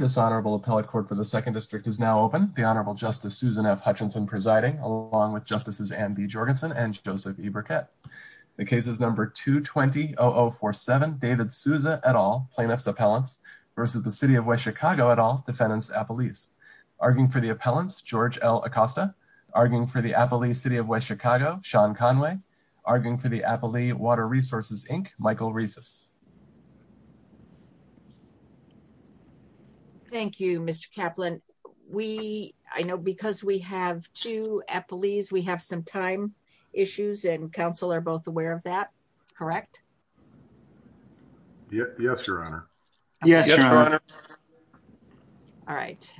This honorable appellate court for the Second District is now open. The Honorable Justice Susan F. Hutchinson presiding, along with Justices Anne B. Jorgensen and Joseph E. Burkett. The case is number 220-0047, David Souza et al., plaintiff's appellant, versus the City of West Chicago et al., defendant's appellee. Arguing for the appellants, George L. Acosta. Arguing for the appellee, City of West Chicago, Sean Conway. Arguing for the appellee, Water Resources, Inc., Michael Rezus. Thank you, Mr. Kaplan. We, I know because we have two appellees, we have some time issues, and counsel are both aware of that, correct? Yes, Your Honor. Yes, Your Honor. All right.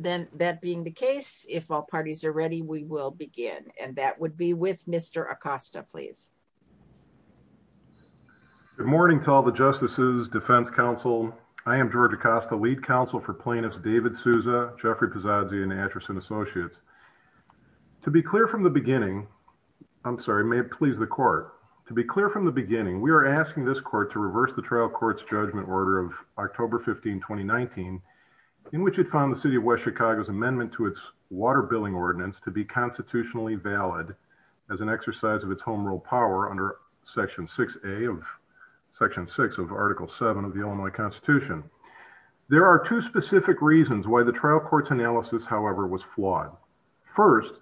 Then, that being the case, if all parties are ready, we will begin. And that would be with Mr. Acosta, please. Good morning to all the Justices, Defense Counsel. I am George Acosta, Lead Counsel for Plaintiffs David Souza, Jeffrey Pizzazzi, and Atchison Associates. To be clear from the beginning, I'm sorry, may it please the court. To be clear from the beginning, we are asking this court to reverse the trial court's judgment order of October 15, 2019, in which it found the City of West Chicago's water billing ordinance to be constitutionally valid as an exercise of its home rule power under Section 6A of, Section 6 of Article 7 of the Illinois Constitution. There are two specific reasons why the trial court's analysis, however, was flawed. First,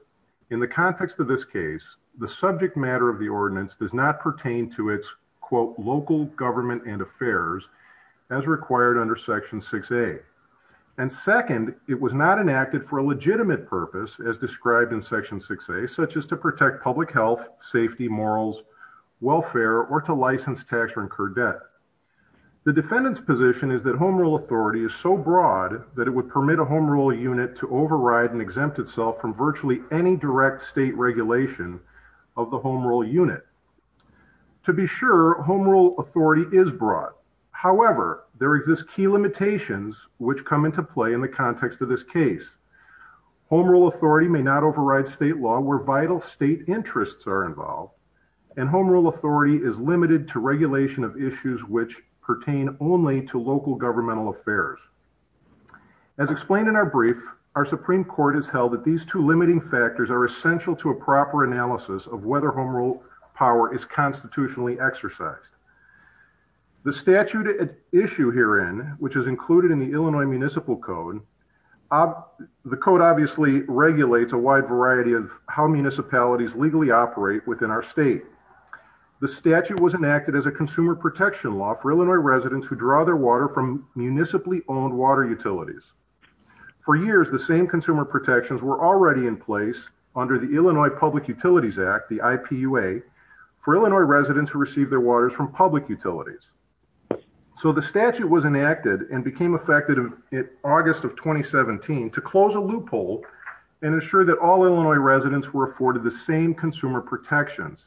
in the context of this case, the subject matter of the ordinance does not pertain to its, quote, local government and purpose as described in Section 6A, such as to protect public health, safety, morals, welfare, or to license, tax, or incur debt. The defendant's position is that home rule authority is so broad that it would permit a home rule unit to override and exempt itself from virtually any direct state regulation of the home rule unit. To be sure, home rule authority is broad. However, there exist key limitations which come into play in the context of this case. Home rule authority may not override state law where vital state interests are involved, and home rule authority is limited to regulation of issues which pertain only to local governmental affairs. As explained in our brief, our Supreme Court has held that these two limiting factors are essential to a proper analysis of whether home rule power is constitutionally exercised. The statute at issue herein, which is included in the Illinois Municipal Code, the Code obviously regulates a wide variety of how municipalities legally operate within our state. The statute was enacted as a consumer protection law for Illinois residents who draw their water from municipally owned water utilities. For years, the same consumer protections were already in under the Illinois Public Utilities Act, the IPUA, for Illinois residents who received their waters from public utilities. So the statute was enacted and became effective in August of 2017 to close a loophole and ensure that all Illinois residents were afforded the same consumer protections.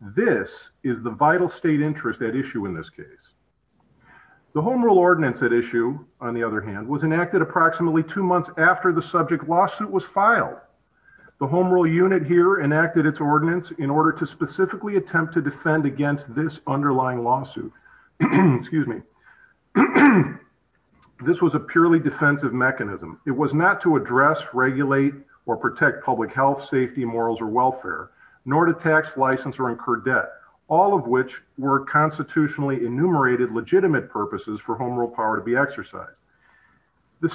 This is the vital state interest at issue in this case. The home rule ordinance at issue, on the other hand, was enacted approximately two months after the subject lawsuit was filed. The home rule unit here enacted its ordinance in order to specifically attempt to defend against this underlying lawsuit. This was a purely defensive mechanism. It was not to address, regulate, or protect public health, safety, morals, or welfare, nor to tax, license, or incur debt, all of which were constitutionally enumerated legitimate purposes for home rule power to be The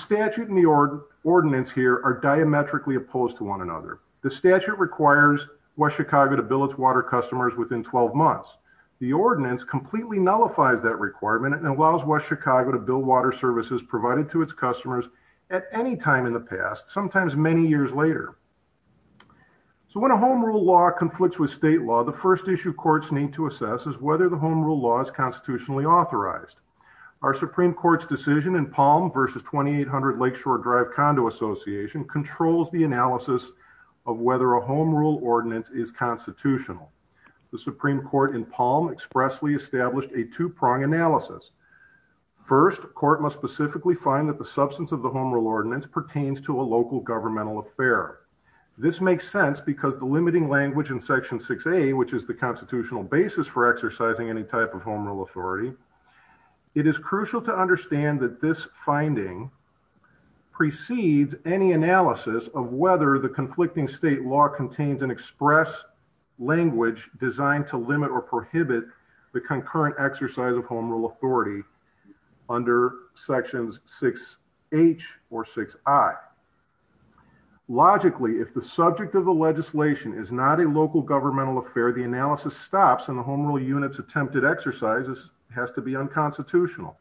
statute requires West Chicago to bill its water customers within 12 months. The ordinance completely nullifies that requirement and allows West Chicago to bill water services provided to its customers at any time in the past, sometimes many years later. So when a home rule law conflicts with state law, the first issue courts need to assess is whether the home rule law is constitutionally authorized. Our Supreme Court's decision in Palm versus 2800 Lakeshore Drive Condo Association controls the analysis of whether a home rule ordinance is constitutional. The Supreme Court in Palm expressly established a two-prong analysis. First, court must specifically find that the substance of the home rule ordinance pertains to a local governmental affair. This makes sense because the limiting language in Section 6A, which is the constitutional basis for exercising any type of home rule authority, it is crucial to understand that this finding precedes any analysis of whether the conflicting state law contains an express language designed to limit or prohibit the concurrent exercise of home rule authority under Sections 6H or 6I. Logically, if the subject of the legislation is not a local governmental affair, the analysis stops and the home rule unit's attempted exercises has to be unconstitutional.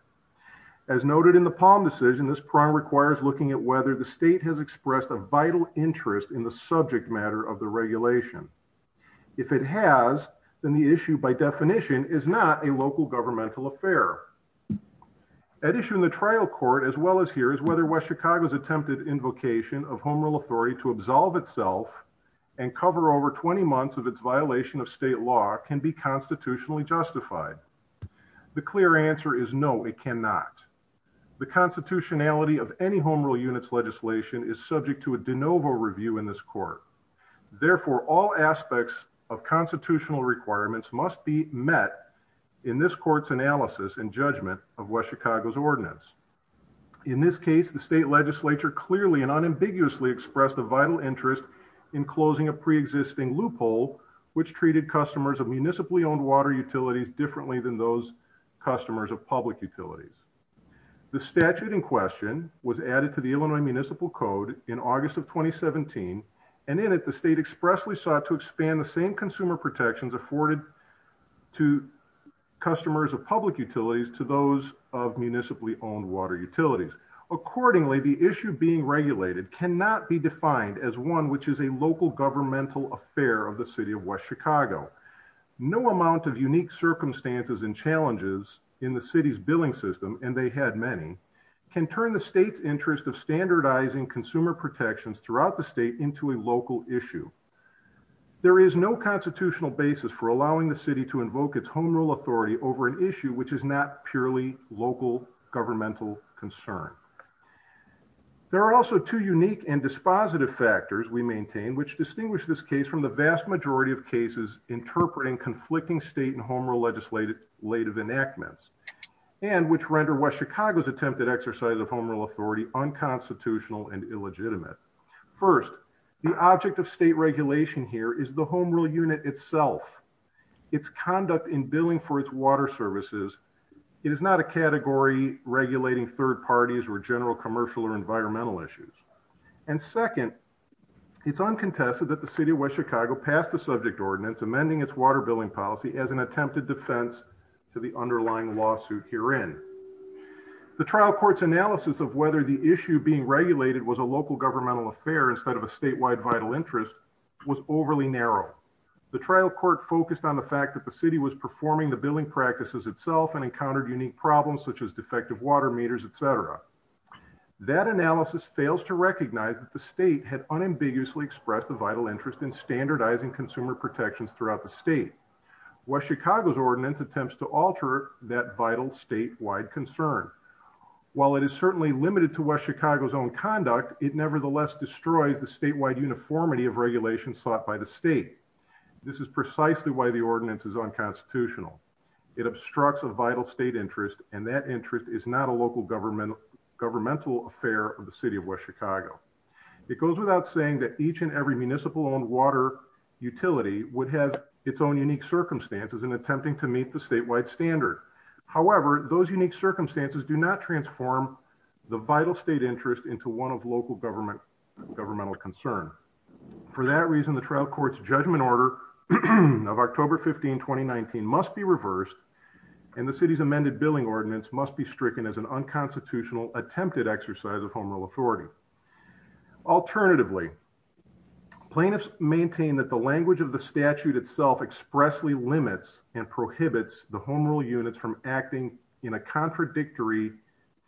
As noted in the Palm decision, this prong requires looking at whether the state has expressed a vital interest in the subject matter of the regulation. If it has, then the issue by definition is not a local governmental affair. At issue in the trial court, as well as here, is whether West Chicago's attempted invocation of home rule authority to absolve itself and cover over 20 months of its violation of state law can be constitutionally justified. The clear answer is no, it cannot. The constitutionality of any home rule unit's legislation is subject to a de novo review in this court. Therefore, all aspects of constitutional requirements must be met in this court's analysis and judgment of West Chicago's ordinance. In this case, the state legislature clearly and unambiguously expressed a vital interest in closing a pre-existing loophole which treated customers of municipally owned water utilities differently than those customers of public utilities. The statute in question was added to the Illinois Municipal Code in August of 2017, and in it, the state expressly sought to expand the same consumer protections afforded to customers of public utilities to those of municipally owned water utilities. Accordingly, the issue being regulated cannot be defined as which is a local governmental affair of the city of West Chicago. No amount of unique circumstances and challenges in the city's billing system, and they had many, can turn the state's interest of standardizing consumer protections throughout the state into a local issue. There is no constitutional basis for allowing the city to invoke its home rule authority over an issue which is not purely local governmental concern. There are also two unique and dispositive factors we maintain which distinguish this case from the vast majority of cases interpreting conflicting state and home rule legislative enactments, and which render West Chicago's attempted exercise of home rule authority unconstitutional and illegitimate. First, the object of state regulation here is the home rule unit itself, its conduct in billing for its water services. It is not a category regulating third parties or general commercial or environmental issues. And second, it's uncontested that the city of West Chicago passed the subject ordinance amending its water billing policy as an attempted defense to the underlying lawsuit herein. The trial court's analysis of whether the issue being regulated was a local governmental affair instead of a statewide vital interest was overly narrow. The trial court focused on the fact that the city was performing the billing practices itself and encountered unique problems such as defective water meters, etc. That analysis fails to recognize that the state had unambiguously expressed a vital interest in standardizing consumer protections throughout the state. West Chicago's ordinance attempts to alter that vital statewide concern. While it is certainly limited to West Chicago's own conduct, it nevertheless destroyed the statewide uniformity of regulation sought by the state. This is precisely why the ordinance is unconstitutional. It obstructs a vital state interest, and that interest is not a local governmental affair of the city of West Chicago. It goes without saying that each and every municipal-owned water utility would have its own unique circumstances in attempting to meet the statewide standard. However, those unique circumstances do not transform the vital state interest into one of local governmental concern. For that reason, the trial court's judgment order of October 15, 2019 must be reversed, and the city's amended billing ordinance must be stricken as an unconstitutional attempted exercise of home rule authority. Alternatively, plaintiffs maintain that the language of the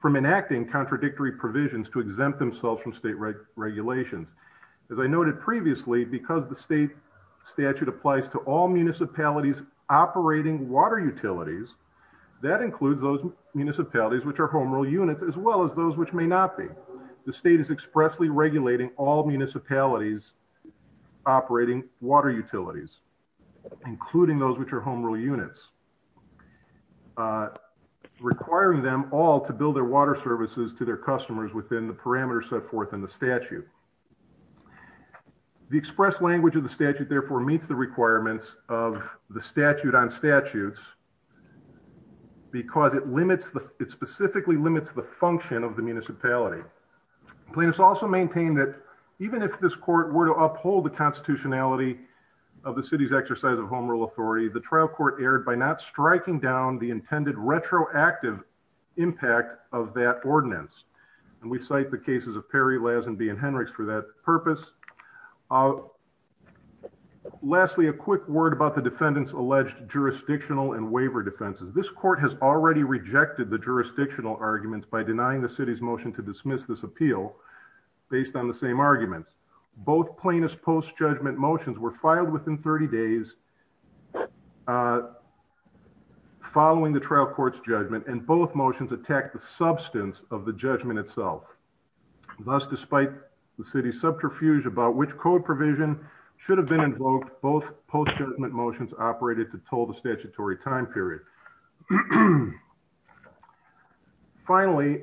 from enacting contradictory provisions to exempt themselves from state regulations. As I noted previously, because the state statute applies to all municipalities operating water utilities, that includes those municipalities which are home rule units as well as those which may not be. The state is expressly regulating all municipalities operating water utilities, including those which are home rule units, requiring them all to bill their water services to their customers within the parameters set forth in the statute. The express language of the statute therefore meets the requirements of the statute on statutes because it specifically limits the function of the municipality. Plaintiffs also maintain that even if this court were to uphold the constitutionality of the city's exercise of home rule authority, the trial court erred by not striking down the intended retroactive impact of that ordinance. And we cite the cases of Perry, Lazenby, and Henrichs for that purpose. Lastly, a quick word about the defendant's alleged jurisdictional and waiver defenses. This court has already rejected the jurisdictional arguments by denying the city's motion to dismiss this appeal based on the same argument. Both plaintiff's post-judgment motions were filed within 30 days following the trial court's judgment, and both motions attacked the substance of the judgment itself. Thus, despite the city's subterfuge about which code provision should have been invoked, both post-judgment motions operated to toll the statutory time period. Finally,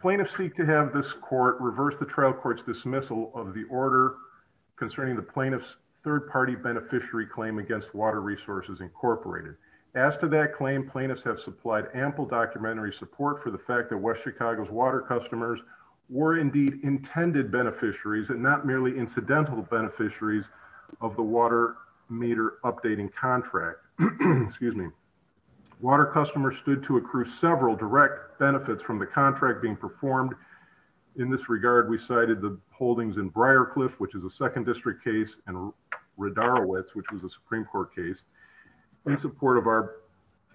plaintiffs seek to have this court reverse the trial court's dismissal of the order concerning the plaintiff's third-party beneficiary claim against Water Resources Incorporated. As to that claim, plaintiffs have supplied ample documentary support for the fact that West Chicago's water customers were indeed intended beneficiaries and not merely incidental beneficiaries of the water meter updating contract. Water customers stood to accrue several direct benefits from the contract being performed. In this regard, we cited the holdings in Briarcliff, which is a second district case, and Radarowitz, which was a Supreme Court case, in support of our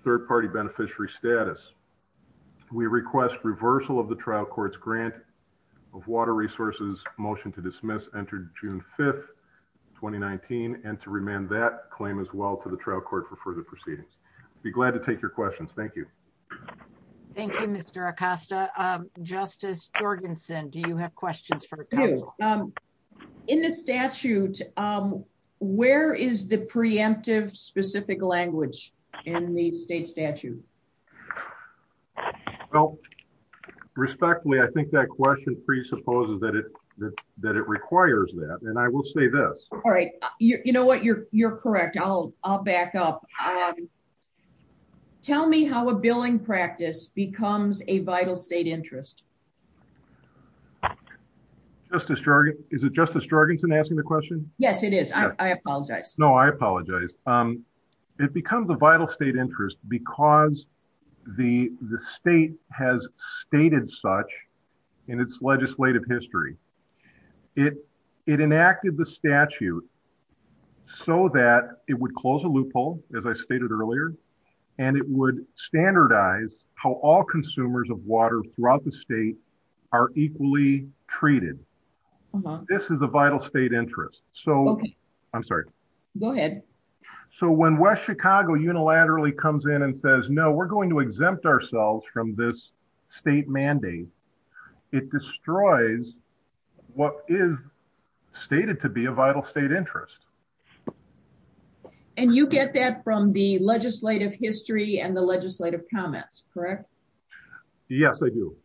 third-party beneficiary status. We request reversal of the trial court's grant of water resources motion to dismiss entered June 5, 2019, and to remand that claim as well to the trial court for further proceedings. I'd be glad to take your questions. Thank you. Thank you, Mr. Acosta. Justice Jorgensen, do you have questions? In the statute, where is the preemptive specific language in the state statute? Well, respectfully, I think that question presupposes that it requires that, and I will say this. All right. You know what? You're correct. I'll back up. All right. Tell me how a billing practice becomes a vital state interest. Is it Justice Jorgensen asking the question? Yes, it is. I apologize. No, I apologize. It becomes a vital state interest because the state has stated such in its legislative history. It enacted the statute so that it would close a loophole, as I stated earlier, and it would standardize how all consumers of water throughout the state are equally treated. This is a vital state interest. I'm sorry. Go ahead. When West Chicago unilaterally comes in and says, no, we're going to exempt ourselves from this state mandate, it destroys what is stated to be a vital state interest. And you get that from the legislative history and the legislative comments, correct? Yes, I do.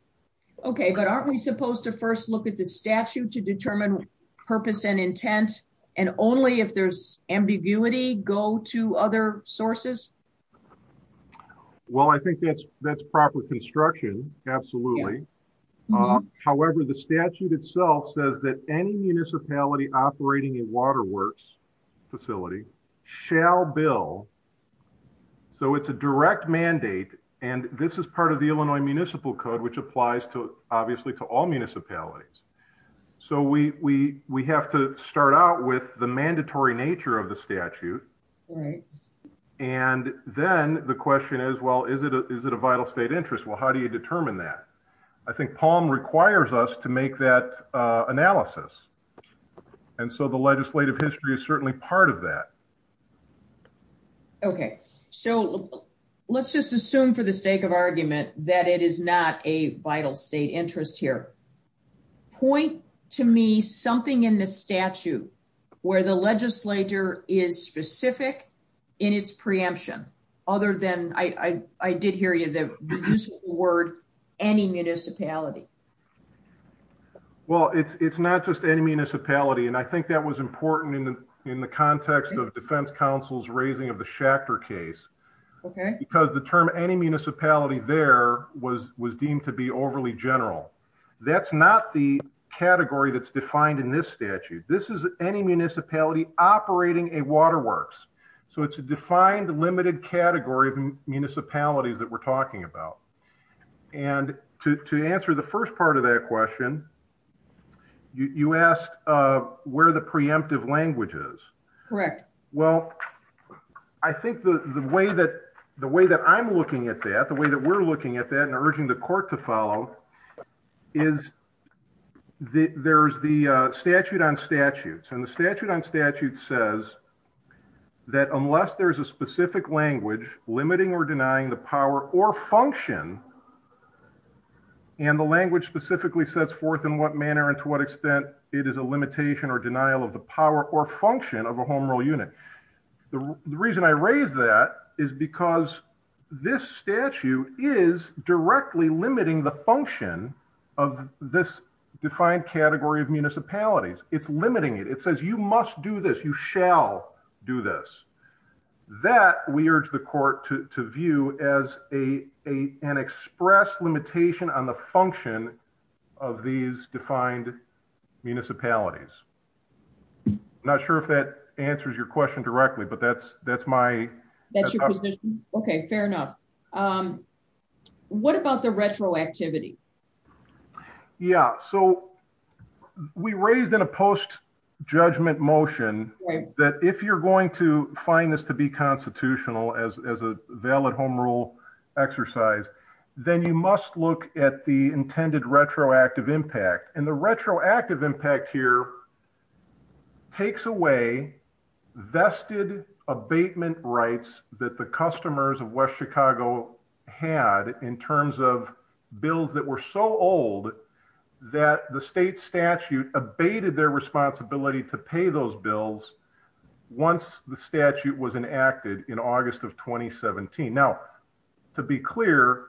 Okay, but aren't we supposed to first look at the statute to determine purpose and intent, and only if there's ambiguity go to other sources? Well, I think that's proper construction. Absolutely. However, the statute itself says that any municipality operating a waterworks facility shall bill. So it's a direct mandate, and this is part of the Illinois Municipal Code, which applies obviously to all municipalities. So we have to start out with the mandatory nature of the statute. And then the question is, well, is it a vital state interest? Well, how do you determine that? I think Palm requires us to make that analysis. And so the legislative history is certainly part of that. Okay. So let's just assume for the sake of argument that it is not a vital state interest here, point to me something in the statute where the legislature is specific in its preemption, other than, I did hear you, the word any municipality. Well, it's not just any municipality. And I think that was important in the context of defense counsel's raising of the general. That's not the category that's defined in this statute. This is any municipality operating a waterworks. So it's a defined limited category of municipalities that we're talking about. And to answer the first part of that question, you asked where the preemptive language is. Well, I think the way that I'm looking at that, the way that we're looking at that and is there's the statute on statutes and the statute on statute says that unless there's a specific language limiting or denying the power or function and the language specifically sets forth in what manner and to what extent it is a limitation or denial of the power or function of a home rule unit. The reason I raised that is because this of this defined category of municipalities, it's limiting it. It says you must do this, you shall do this. That we urge the court to view as an express limitation on the function of these defined municipalities. Not sure if that answers your question directly, but that's my- Okay, fair enough. What about the retroactivity? Yeah. So we raised in a post judgment motion that if you're going to find this to be constitutional as a valid home rule exercise, then you must look at the intended retroactive impact. And the retroactive impact here takes away vested abatement rights that the customers of West Chicago had in terms of bills that were so old that the state statute abated their responsibility to pay those bills once the statute was enacted in August of 2017. Now, to be clear,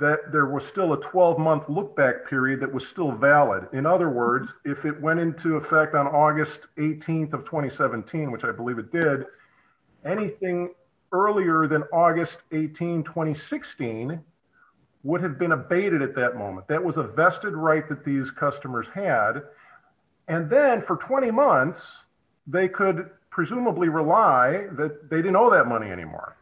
that there was still a 12-month look-back period that was still valid. In other words, if it went into effect on August 18th of 2017, which I believe it did, anything earlier than August 18, 2016 would have been abated at that moment. That was a vested right that these customers had. And then for 20 months, they could presumably rely that they didn't owe that money anymore.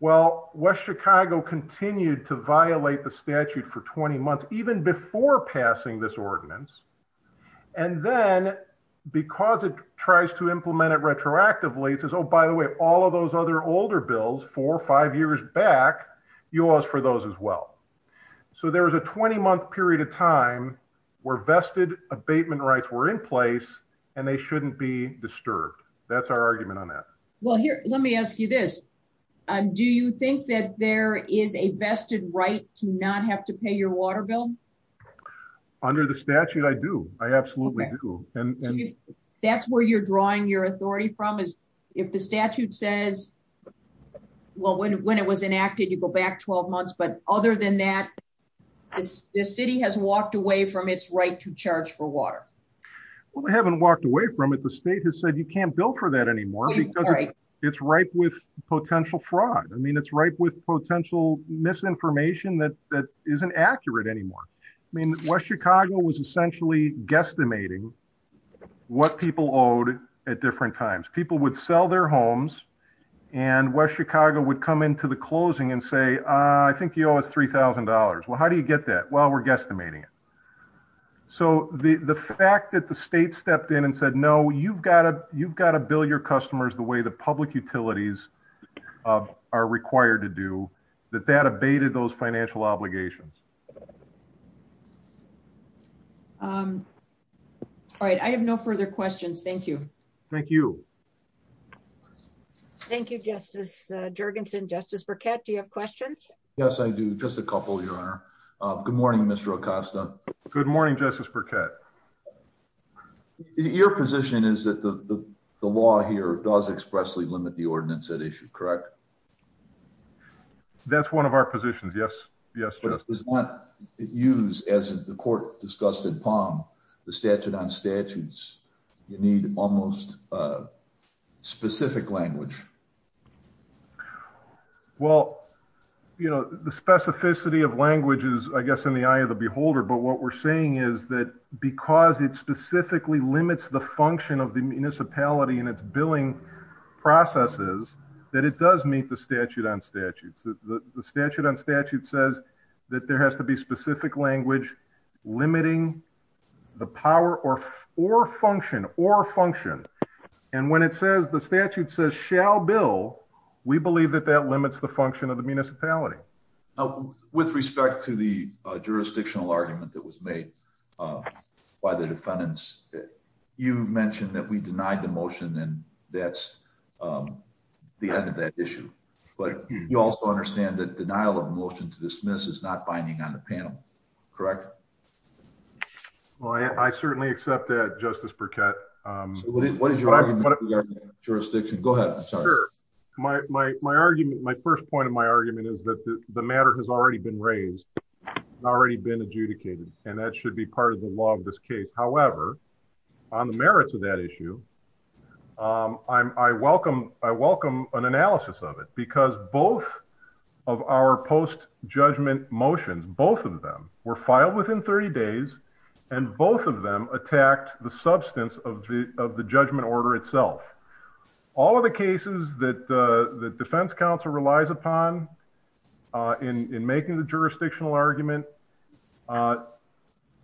Well, West Chicago continued to violate the statute for 20 months, even before passing this ordinance. And then because it tries to implement it retroactively, it says, oh, by the way, all of those other older bills four or five years back, you'll ask for those as well. So there was a 20-month period of time where vested abatement rights were in place and they shouldn't be disturbed. That's our argument on that. Well, here, let me ask you this. Do you think that there is a vested right to not have to pay your water bill? Under the statute, I do. I absolutely do. And that's where you're drawing your authority from is if the statute says, well, when it was enacted, you go back 12 months. But other than that, the city has walked away from its right to you can't bill for that anymore because it's right with potential fraud. I mean, it's right with potential misinformation that isn't accurate anymore. I mean, West Chicago was essentially guesstimating what people owed at different times. People would sell their homes and West Chicago would come into the closing and say, I think you owe us $3,000. Well, how do you get that? Well, guesstimating. So the fact that the state stepped in and said, no, you've got to bill your customers the way the public utilities are required to do, that that abated those financial obligations. All right. I have no further questions. Thank you. Thank you. Thank you, Justice Jergensen. Justice Burkett, do you have questions? Yes, I do. Just a couple, Your Honor. Good morning, Mr. Acosta. Good morning, Justice Burkett. Your position is that the law here does expressly limit the ordinance at issue, correct? That's one of our positions. Yes. Yes. Use as the court discussed in Palm, the statute on statutes, you need almost specific language. Well, you know, the specificity of languages, I guess, in the eye of the beholder. But what we're saying is that because it specifically limits the function of the municipality and its billing processes, that it does meet the statute on statutes. The statute on statute says that there has to be specific language limiting the power or or function or function. And when it says shall bill, we believe that that limits the function of the municipality. With respect to the jurisdictional argument that was made by the defendants, you mentioned that we denied the motion and that's the end of that issue. But you also understand that denial of motion to dismiss is not binding on the panel, correct? Well, I certainly accept that, Justice Burkett. What is your jurisdiction? Go ahead. Sure. My argument, my first point of my argument is that the matter has already been raised, already been adjudicated, and that should be part of the law of this case. However, on the merits of that issue, I welcome an analysis of it because both of our post judgment motions, both of them were filed within 30 days and both of them attacked the substance of the judgment order itself. All of the cases that the defense counsel relies upon in making the jurisdictional argument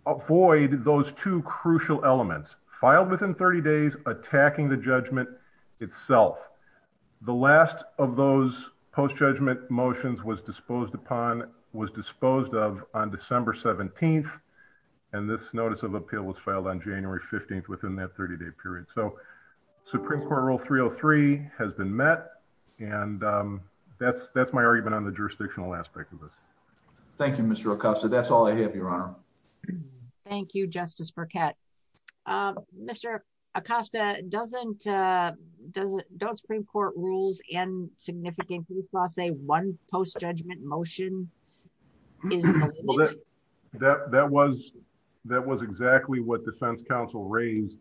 avoid those two crucial elements, filed within 30 days, attacking the judgment itself. The last of those post judgment motions was disposed upon, was disposed of on December 17th and this notice of appeal was filed on January 15th within that 30-day period. So, Supreme Court Rule 303 has been met and that's my argument on the jurisdictional aspect of this. Thank you, Mr. Acosta. That's all I have, Your Honor. Thank you, Justice Burkett. Mr. Acosta, don't Supreme Court rules and significance, we saw say one post judgment motion. That was exactly what defense counsel raised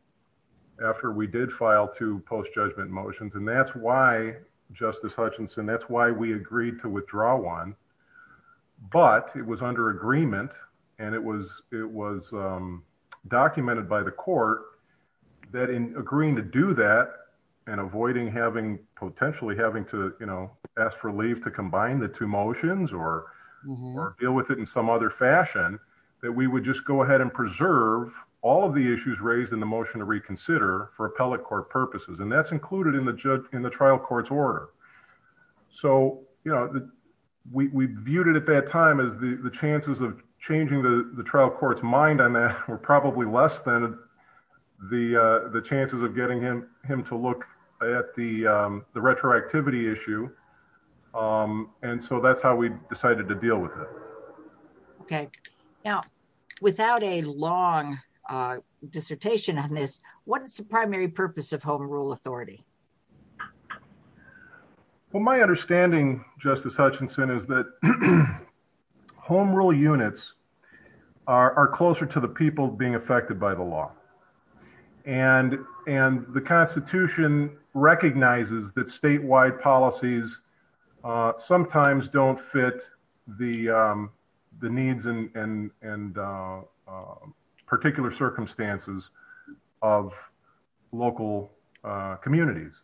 after we did file two post judgment motions and that's why, Justice Hutchinson, that's why we agreed to withdraw one. But it was under agreement and it was documented by the court that in agreeing to do that and avoiding having, potentially having to, you know, ask for leave to combine the two motions or deal with it in some other fashion, that we would just go ahead and preserve all of the issues raised in the motion to reconsider for appellate court purposes and that's included in the trial court's order. So, you know, we viewed it at that time as the chances of changing the trial court's were probably less than the chances of getting him to look at the retroactivity issue and so that's how we decided to deal with it. Okay. Now, without a long dissertation on this, what is the primary purpose of Home Rule Authority? Well, my understanding, Justice Hutchinson, is that Home Rule units are closer to the people being affected by the law and the Constitution recognizes that statewide policies sometimes don't fit the needs and particular circumstances of local communities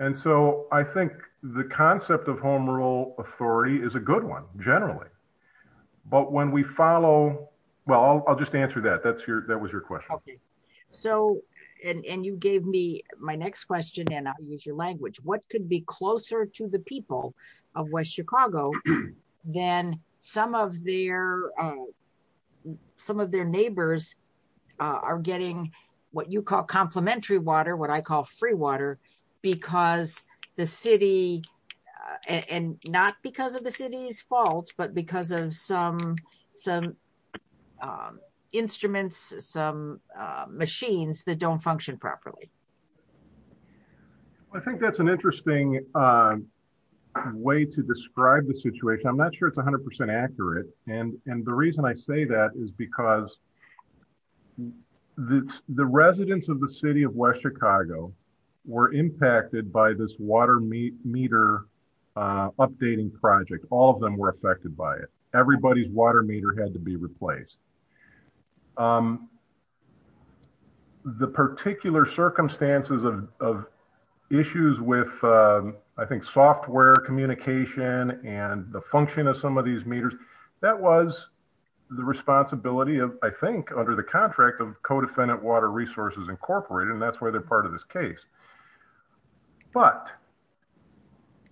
and so I think the concept of Home Rule Authority is a good one, generally, but when we follow, well, I'll just answer that, that was your question. Okay. So, and you gave me my next question and I'll use your language, what could be closer to the people of West Chicago than some of their neighbors are getting what you call complementary water, what I call free water, because the city, and not because of the city's fault, but because of some instruments, some machines that don't function properly? I think that's an interesting way to describe the situation. I'm not sure it's 100% accurate and the reason I say that is because the residents of the city of West Chicago were impacted by this water meter updating project. All of them were affected by it. Everybody's water meter had to be replaced. The particular circumstances of issues with, I think, software communication and the function of some of these meters, that was the responsibility of, I think, under the contract of Codefendant Water Resources Incorporated and that's where part of this case, but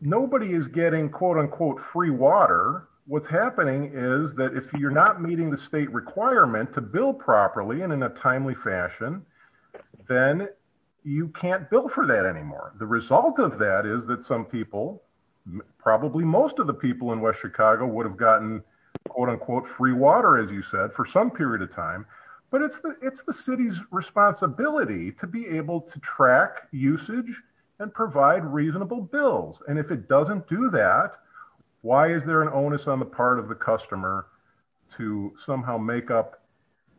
nobody is getting quote unquote free water. What's happening is that if you're not meeting the state requirement to build properly and in a timely fashion, then you can't build for that anymore. The result of that is that some people, probably most of the people in West Chicago would have gotten quote unquote free water, as you said, for some period of time, but it's the city's responsibility to be able to track usage and provide reasonable bills. If it doesn't do that, why is there an onus on the part of the customer to somehow make up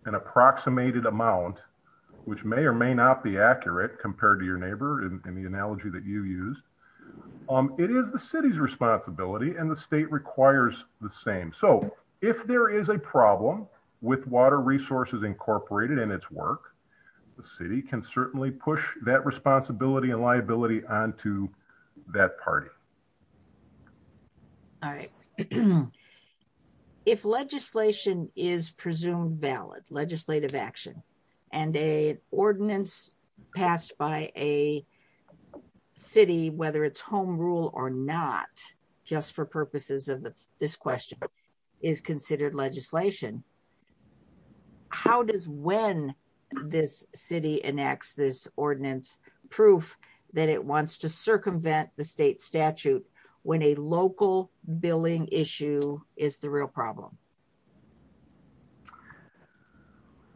an approximated amount, which may or may not be accurate compared to your neighbor in the analogy that you use? It is the city's responsibility and the state requires the same. If there is a problem with Water Resources Incorporated and its work, the city can certainly push that responsibility and liability onto that party. All right. If legislation is presumed valid, legislative action, and an ordinance passed by a home rule or not, just for purposes of this question, is considered legislation, how does when this city enacts this ordinance proof that it wants to circumvent the state statute when a local billing issue is the real problem?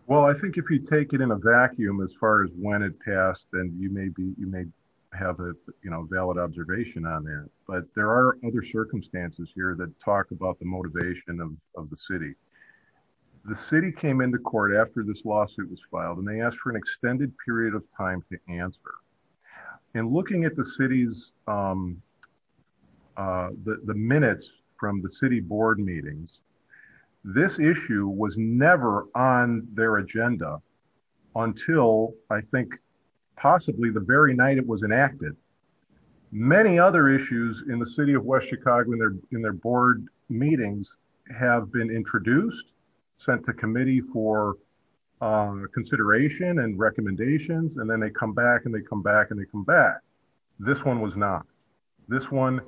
Well, I think if you take it in a vacuum as far as when it passed, then you may have a valid observation on there, but there are other circumstances here that talk about the motivation of the city. The city came into court after this lawsuit was filed and they asked for an extended period of time to answer. And looking at the I think possibly the very night it was enacted, many other issues in the city of West Chicago in their board meetings have been introduced, sent to committee for consideration and recommendations, and then they come back and they come back and they come back. This one was not. This one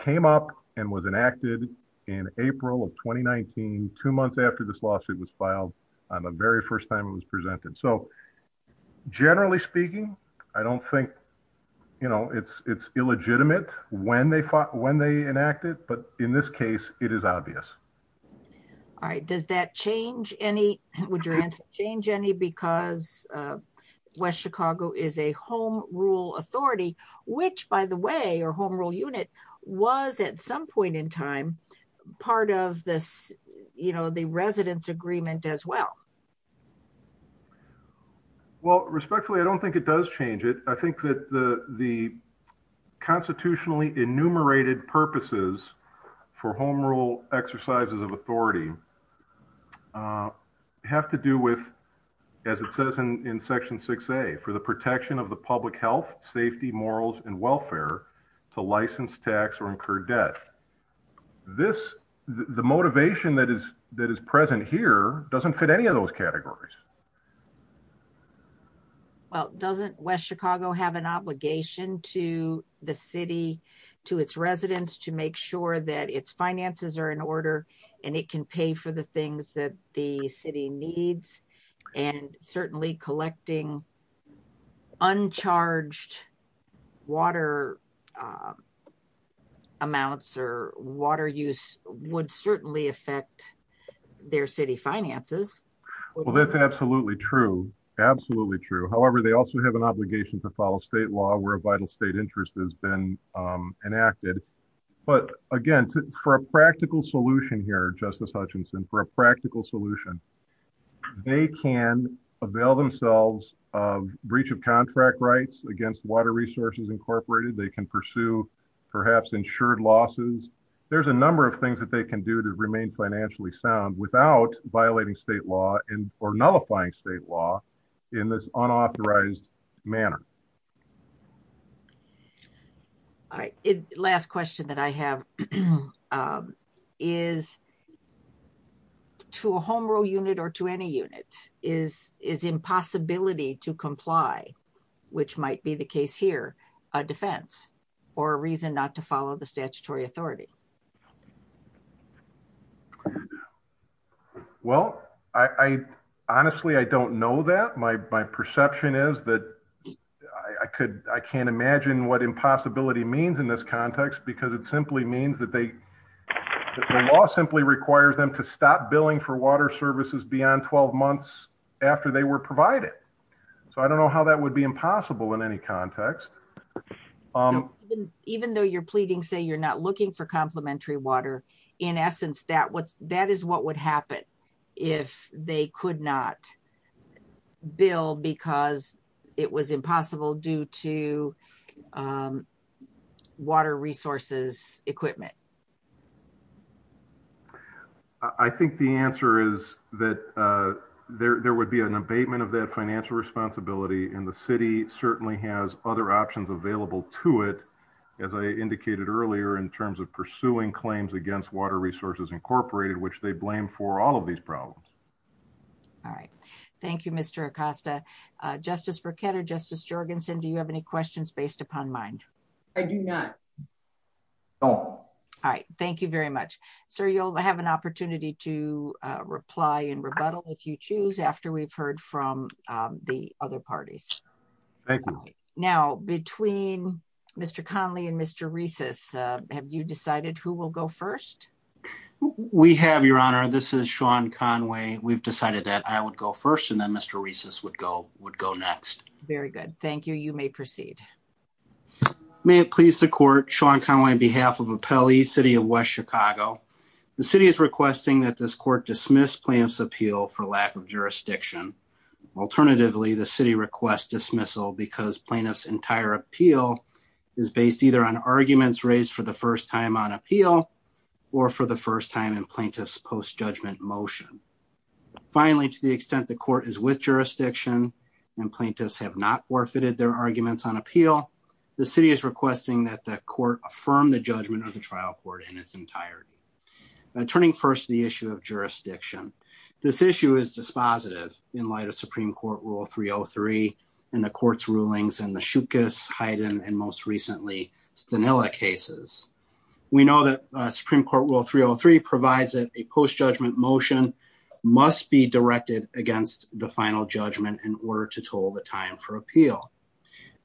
came up and was enacted in April of 2019, two months after this lawsuit was filed on the very first time it was presented. So generally speaking, I don't think it's illegitimate when they enacted, but in this case, it is obvious. All right. Does that change any, would your answer change any, because West Chicago is a home rule authority, which by the way, or home rule unit was at some agreement as well? Well, respectfully, I don't think it does change it. I think that the constitutionally enumerated purposes for home rule exercises of authority have to do with, as it says in section 6A, for the protection of the public health, safety, morals, and welfare to license, tax, or incur debt. This, the motivation that is present here doesn't fit any of those categories. Well, doesn't West Chicago have an obligation to the city, to its residents, to make sure that its finances are in order and it can pay for the things that the city needs? And certainly collecting uncharged water amounts or water use would certainly affect their city finances. Well, that's absolutely true. Absolutely true. However, they also have an obligation to follow state law where a vital state interest has been enacted. But again, for a practical solution here, breach of contract rights against water resources incorporated, they can pursue perhaps insured losses. There's a number of things that they can do to remain financially sound without violating state law or nullifying state law in this unauthorized manner. All right. Last question that I have is to a home rule unit or to any unit, is impossibility to comply, which might be the case here, a defense or a reason not to follow the statutory authority? Well, honestly, I don't know that. My perception is that I can't imagine what impossibility means in this context because it simply means that the law simply requires them to stop billing for water services beyond 12 months after they were provided. So I don't know how that would be impossible in any context. Even though you're pleading say you're not looking for complementary water, in essence, that is what would happen if they could not bill because it was impossible due to water resources equipment? I think the answer is that there would be an abatement of that financial responsibility and the city certainly has other options available to it, as I indicated earlier, in terms of pursuing claims against water resources incorporated, which they blame for all of these problems. All right. Thank you, Mr. Acosta. Justice Burkett or Justice Jorgensen, do you have any questions based upon mine? I do not. All right. Thank you very much. Sir, you'll have an opportunity to reply and rebuttal if you choose after we've heard from the other parties. Now, between Mr. Conley and Mr. Reces, have you decided who will go first? We have, Your Honor. This is Sean Conway. We've decided that I would go first and then Mr. Reces would go next. Very good. Thank you. You may proceed. May it please the court, Sean Conway, on behalf of Appellee City of West Chicago. The city is requesting that this court dismiss plaintiff's appeal for lack of jurisdiction. Alternatively, the city requests dismissal because plaintiff's entire appeal is based either on arguments raised for the first time on appeal or for the first time in plaintiff's post-judgment motion. Finally, to the extent the court is with jurisdiction and plaintiffs have not forfeited their arguments on appeal, the city is requesting that the court affirm the judgment of the trial court in its entirety. Turning first to the issue of jurisdiction, this issue is dispositive in light of Supreme Court Rule 303 and the court's rulings in the Shookus, Hyden, and most recently, Stanilla cases. We know that Supreme Court Rule 303 provides that a post-judgment motion must be directed against the final judgment in order to toll the time for appeal.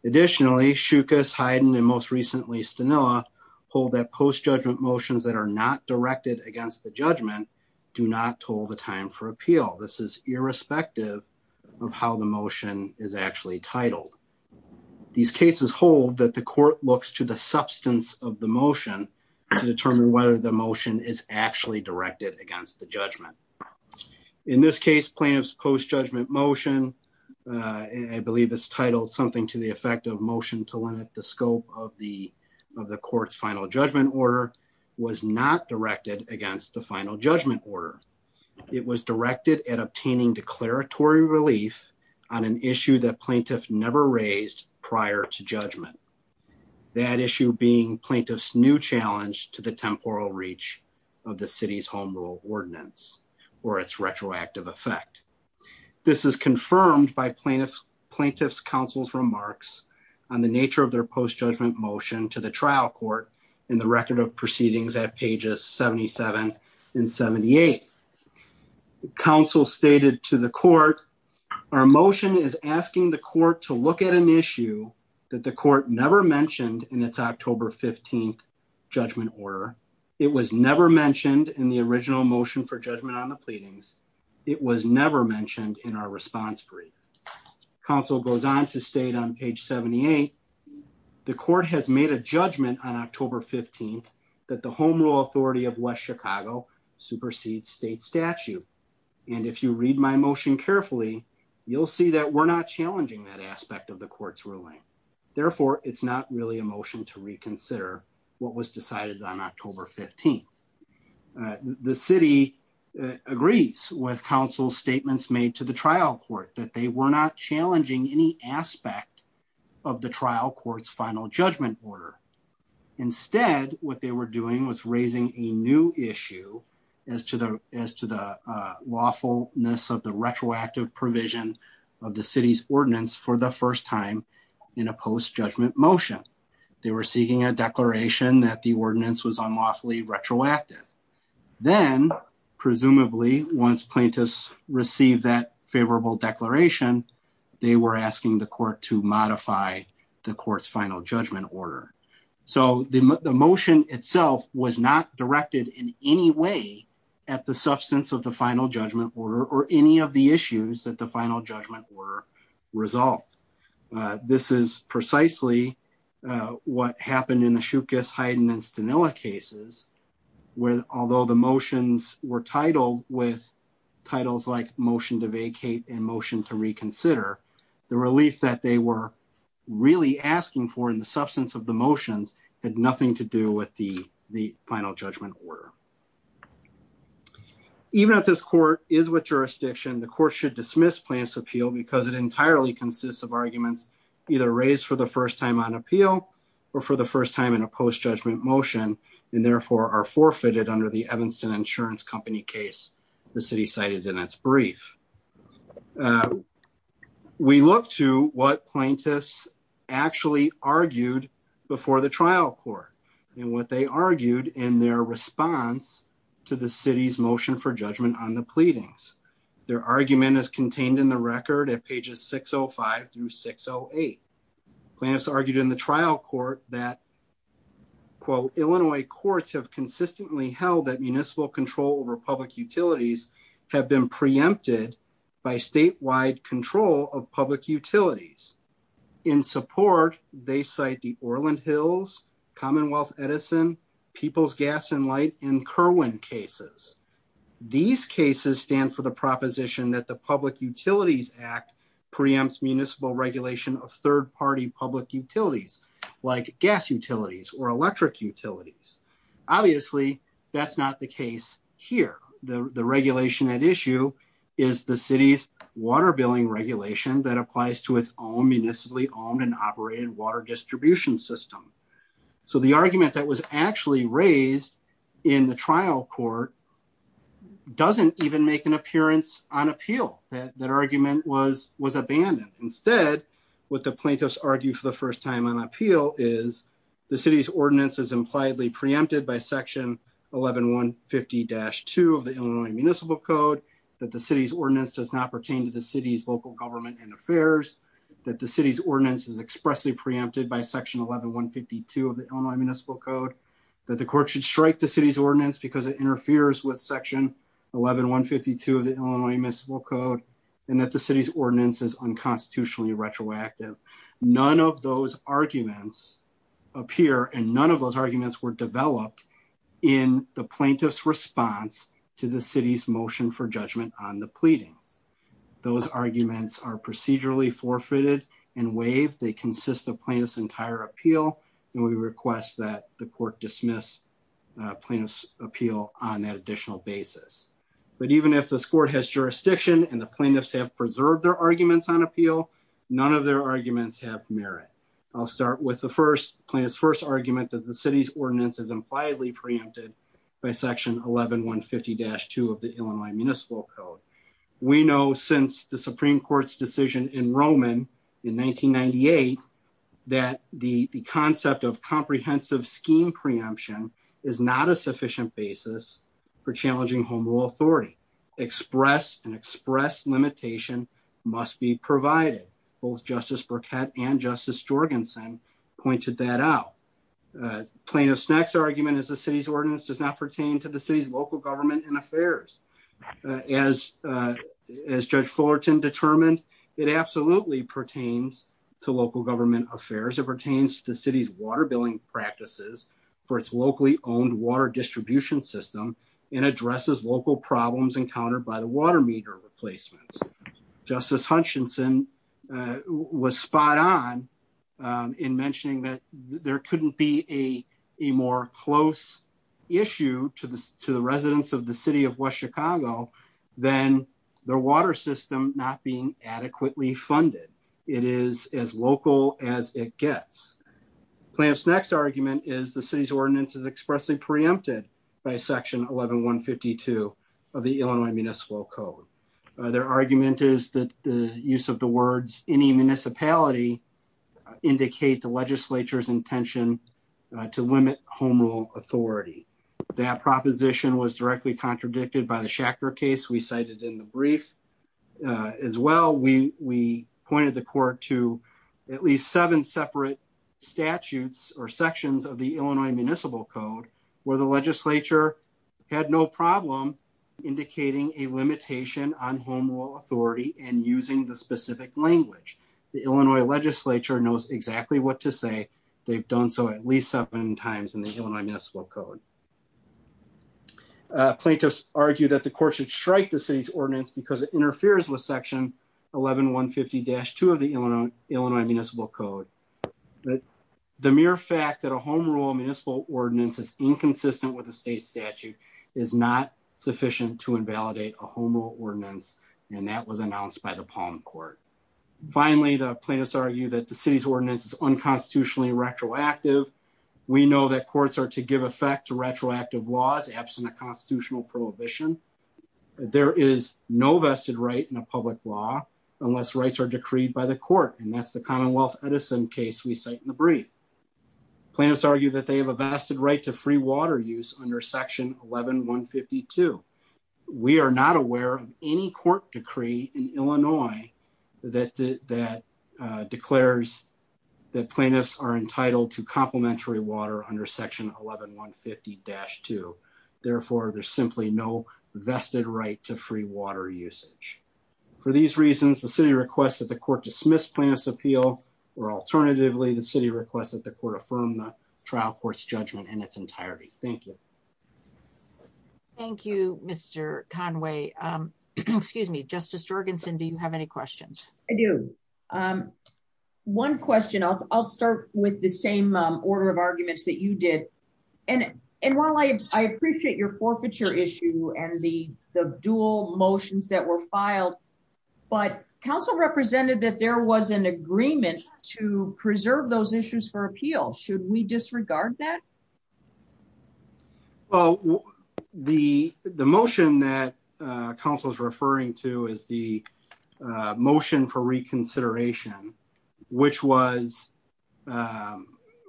Additionally, Shookus, Hyden, and most recently, Stanilla hold that post-judgment motions that are not directed against the judgment do not toll the time for appeal. This is irrespective of how the motion is actually titled. These cases hold that the court looks to the substance of the motion to determine whether the motion is actually directed against the judgment. In this case, plaintiff's post-judgment motion, I believe it's titled something to the effect of motion to limit the scope of the court's final judgment order, was not directed against the final judgment order. It was directed at obtaining declaratory relief on an issue that plaintiff never raised prior to judgment. That issue being plaintiff's new challenge to the temporal reach of the city's home rule ordinance or its retroactive effect. This is confirmed by plaintiff's counsel's remarks on the nature of their post-judgment motion to the trial court in the record of proceedings at pages 77 and 78. Counsel stated to the court, our motion is asking the court to look at an issue that the court never mentioned in its October 15th judgment order. It was never mentioned in the original motion for judgment on the pleadings. It was never mentioned in our response brief. Counsel goes on to state on page 78, the court has made a judgment on October 15th that the home rule authority of West Chicago supersedes state statute. And if you read my motion carefully, you'll see that we're not challenging that aspect of the court's ruling. Therefore, it's not really a motion to reconsider what was decided on October 15th. The city agrees with counsel's statements made to the trial court that they were not challenging any aspect of the trial court's final judgment order. Instead, what they were doing was raising a new issue as to the lawfulness of the retroactive provision of the city's ordinance for the first time in a post-judgment motion. They were seeking a declaration that the ordinance was unlawfully retroactive. Then presumably once plaintiffs received that favorable declaration, they were asking the court to modify the court's final judgment order. So the motion itself was not directed in any way at the substance of the final judgment order or any of the issues that the final judgment were resolved. This is precisely what happened in the Shookus, Hyden, and Stenilla cases where although the motions were titled with titles like motion to vacate and motion to reconsider, the release that they were really asking for in the substance of the motions had nothing to do with the final judgment order. Even if this court is with jurisdiction, the court should dismiss plaintiff's appeal because it entirely consists of arguments either raised for the first time on appeal or for the first time in a post-judgment motion and therefore are forfeited under the Evanston Insurance Company case. The city cited in its brief. We look to what plaintiffs actually argued before the trial court and what they argued in their response to the city's motion for judgment on the pleadings. Their argument is contained in the record at pages 605 through 608. Plaintiffs argued in the trial court that quote, Illinois courts have consistently held that municipal control over public utilities have been preempted by statewide control of public utilities. In support, they cite the Orland Hills, Commonwealth Edison, People's Gas and Light, and Kerwin cases. These cases stand for the proposition that the Public Utilities Act preempts municipal regulation of third-party public utilities like gas utilities or electric utilities. Obviously, that's not the case here. The regulation at issue is the city's water billing regulation that applies to its own municipally owned and operated water distribution system. The argument that was actually raised in the trial court doesn't even make an appearance on appeal. That argument was abandoned. Instead, what the plaintiffs argue for the first time on appeal is the city's ordinance is impliedly preempted by section 11150-2 of the Illinois Municipal Code, that the city's ordinance does not pertain to the city's local government and affairs, that the city's ordinance is expressly by section 11152 of the Illinois Municipal Code, that the court should strike the city's ordinance because it interferes with section 11152 of the Illinois Municipal Code, and that the city's ordinance is unconstitutionally retroactive. None of those arguments appear and none of those arguments were developed in the plaintiff's response to the city's motion for judgment on pleading. Those arguments are procedurally forfeited and waived. They consist of plaintiff's entire appeal, and we request that the court dismiss plaintiff's appeal on that additional basis. But even if this court has jurisdiction and the plaintiffs have preserved their arguments on appeal, none of their arguments have merit. I'll start with the first plaintiff's first argument that the city's ordinance is impliedly preempted by section 11150-2 of the Illinois Municipal Code. We know since the Supreme Court's decision in Roman in 1998 that the concept of comprehensive scheme preemption is not a sufficient basis for challenging home rule authority. Express and express limitation must be provided. Both Justice Burkett and Justice Jorgensen pointed that out. Plaintiff's next argument is the city's ordinance does not pertain to the city's local government and affairs. As Judge Fullerton determined, it absolutely pertains to local government affairs. It pertains to the city's water billing practices for its locally owned water distribution system and addresses local problems encountered by the water meter replacements. Justice Hutchinson was spot on in mentioning that there couldn't be a more close issue to the residents of the city of West Chicago than their water system not being adequately funded. It is as local as it gets. Plaintiff's next argument is the city's ordinance is expressly preempted by section 11152 of the Municipal Code. Their argument is that the use of the words any municipality indicates the legislature's intention to limit home rule authority. That proposition was directly contradicted by the Shacker case we cited in the brief. As well, we pointed the court to at least seven separate statutes or sections of the Illinois Municipal Code where the legislature had no problem indicating a limitation on home rule authority and using the specific language. The Illinois legislature knows exactly what to say. They've done so at least seven times in the Illinois Municipal Code. Plaintiffs argue that the court should strike the city's ordinance because it interferes with section 11150-2 of the Illinois Municipal Code. The mere fact that home rule municipal ordinance is inconsistent with the state statute is not sufficient to invalidate a home rule ordinance and that was announced by the Palm Court. Finally, the plaintiffs argue that the city's ordinance is unconstitutionally retroactive. We know that courts are to give effect to retroactive laws absent a constitutional prohibition. There is no vested right in a public law unless rights are decreed by the court and that's the Commonwealth Edison case we cite in the brief. Plaintiffs argue that they have a vested right to free water use under section 11152. We are not aware of any court decree in Illinois that declares that plaintiffs are entitled to complementary water under section 11150-2. Therefore, there's simply no vested right to free water usage. For these reasons, the city requested the court dismiss plaintiff's appeal or alternatively, the city requested the court affirm the trial court's judgment in its entirety. Thank you. Thank you, Mr. Conway. Excuse me, Justice Jorgensen, do you have any questions? I do. One question. I'll start with the same order of arguments that you did. And while I appreciate your forfeiture issue and the dual motions that were filed, but council represented that there was an agreement to preserve those issues for appeal. Should we disregard that? Well, the motion that council is referring to is the motion for reconsideration, which was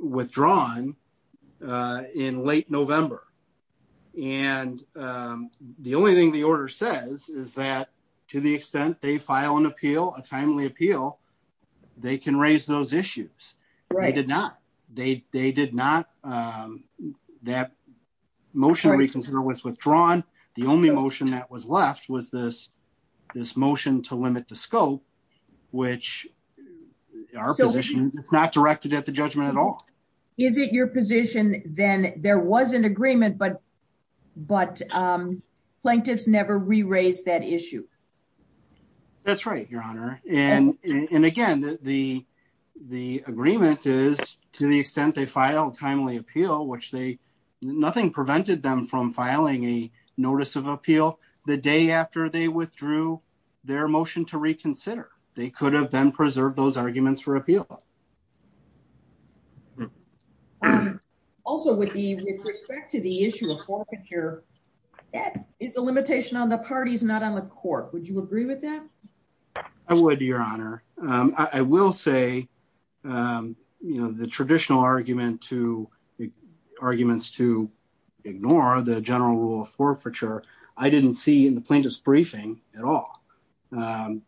withdrawn in late November. And the only thing the order says is that to the extent they file an appeal, a timely appeal, they can raise those issues. Right. They did not. They did not. That motion reconsider was withdrawn. The only motion that was left was this motion to limit the scope, which our position is not directed at the judgment at all. Is it your position then there was an agreement, but plaintiffs never re-raised that issue? That's right, Your Honor. And again, the agreement is to the extent they file a timely appeal, which nothing prevented them from filing a notice of appeal the day after they withdrew their motion to reconsider. They could have then preserved those arguments for appeal. Also, with respect to the issue of forfeiture, that is a limitation on the parties, not on the court. Would you agree with that? I would, Your Honor. I will say the traditional arguments to ignore the general rule of forfeiture, I didn't see in the plaintiff's briefing at all. I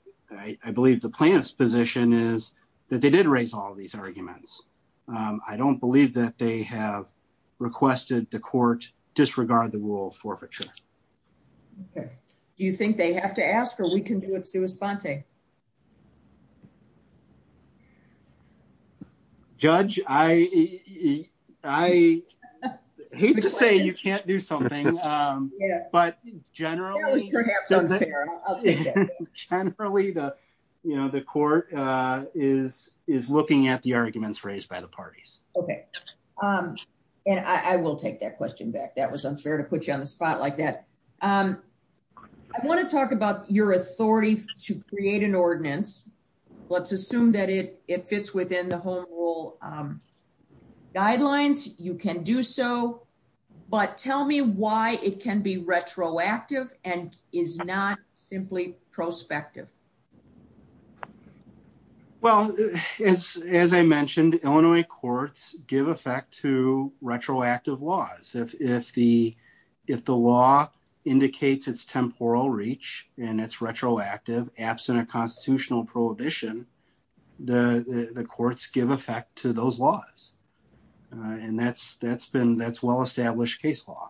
believe the plaintiff's position is that they did raise all of these arguments. I don't believe that they have requested the court disregard the rule of forfeiture. Okay. Do you think they have to ask or we can do it through a sponte? Judge, I hate to say you can't do something, but generally the court is looking at the arguments raised by the parties. Okay. And I will take that question back. That was unfair to put you on the spot like that. I want to talk about your authority to create an ordinance. Let's assume that it fits within the home rule guidelines. You can do so, but tell me why it can be retroactive and is not simply prospective. As I mentioned, Illinois courts give effect to retroactive laws. If the law indicates its temporal reach and it's retroactive, absent a constitutional prohibition, the courts give effect to those laws. That's well-established case law.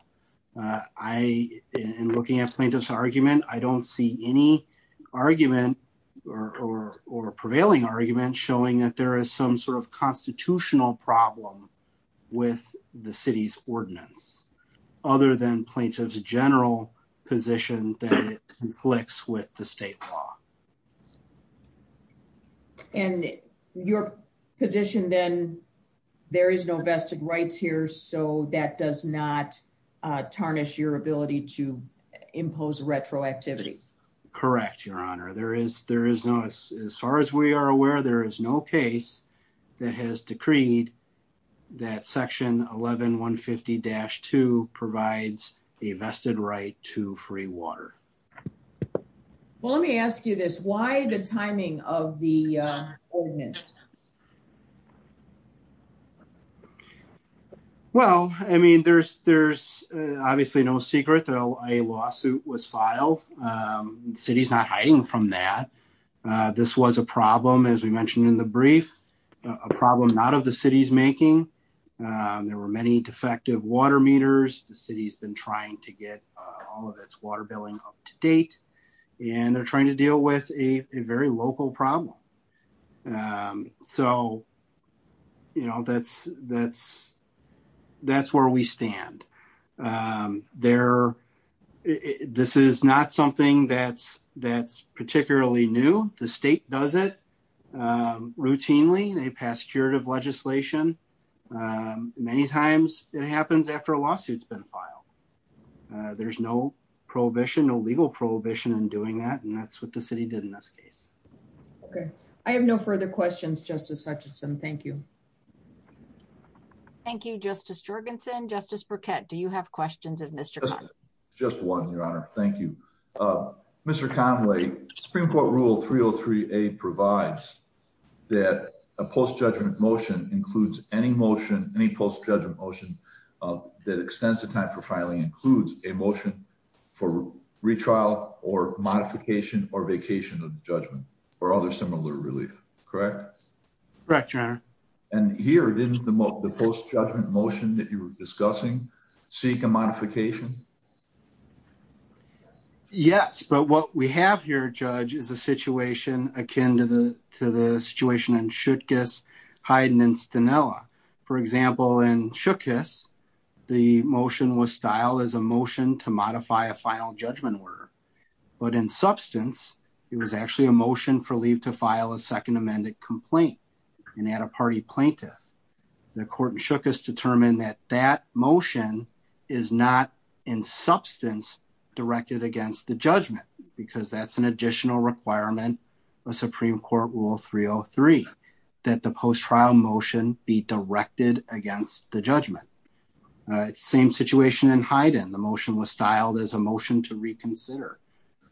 I am looking at plaintiff's argument. I don't see any argument or prevailing argument showing that there is some sort of constitutional problem with the city's ordinance other than plaintiff's general position that it conflicts with the state law. Okay. And your position then, there is no vested rights here, so that does not tarnish your ability to impose retroactivity? Correct, Your Honor. As far as we are aware, there is no case that has decreed that section 11-150-2 provides a vested right to free water. Let me ask you this. Why the timing of the ordinance? Well, I mean, there is obviously no secret that a lawsuit was filed. The city is not hiding from that. This was a problem, as we mentioned in the brief, a problem not of the city's making. There were many defective water meters. The city has been trying to get all of its water billing up to date, and they are trying to deal with a very local problem. So, you know, that's where we stand. This is not something that is particularly new. The state does it routinely. They pass curative legislation. Many times it happens after a lawsuit has been a legal prohibition in doing that, and that's what the city did in this case. Okay. I have no further questions, Justice Hutchison. Thank you. Thank you, Justice Jorgensen. Justice Burkett, do you have questions of Mr. Conway? Just one, Your Honor. Thank you. Mr. Conway, Supreme Court Rule 303A provides that a post-judgment motion includes any motion, any post-judgment motion that extends the time includes a motion for retrial or modification or vacation of judgment or other similar relief, correct? Correct, Your Honor. And here, didn't the post-judgment motion that you were discussing seek a modification? Yes, but what we have here, Judge, is a situation akin to the situation in Shookus. The motion was styled as a motion to modify a final judgment order, but in substance, it was actually a motion for leave to file a second amended complaint, an out-of-party plaintiff. The court in Shookus determined that that motion is not in substance directed against the judgment, because that's an additional requirement of Supreme Court Rule 303, that the post-trial motion be directed against the judgment. Same situation in Hyden. The motion was styled as a motion to reconsider,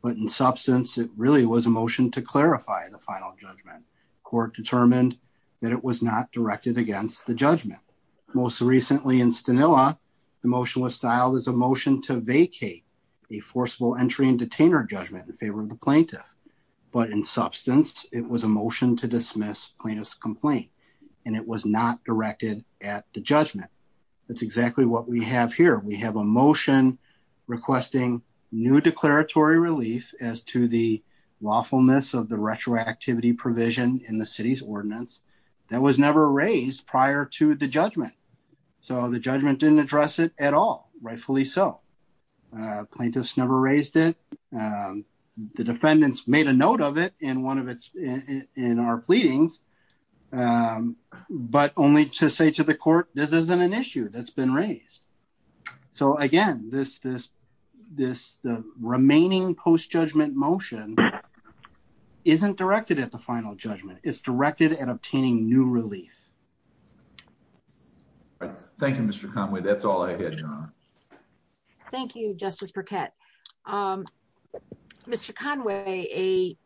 but in substance, it really was a motion to clarify the final judgment. Court determined that it was not directed against the judgment. Most recently in Stanilla, the motion was styled as a motion to vacate a forcible entry and detainer judgment in favor of the plaintiff, but in substance, it was a motion to dismiss plaintiff's complaint, and it was not directed at the judgment. That's exactly what we have here. We have a motion requesting new declaratory relief as to the lawfulness of the retroactivity provision in the city's ordinance that was never raised prior to the judgment, so the judgment didn't address it at all, rightfully so. Plaintiffs never raised it. The defendants made a note of it in our pleadings, but only to say to the court, this isn't an issue that's been raised. So again, this remaining post-judgment motion isn't directed at the final judgment. It's directed at obtaining new relief. Thank you, Mr. Conway. That's all I had, John. Thank you, Justice Burkett. Mr. Conway,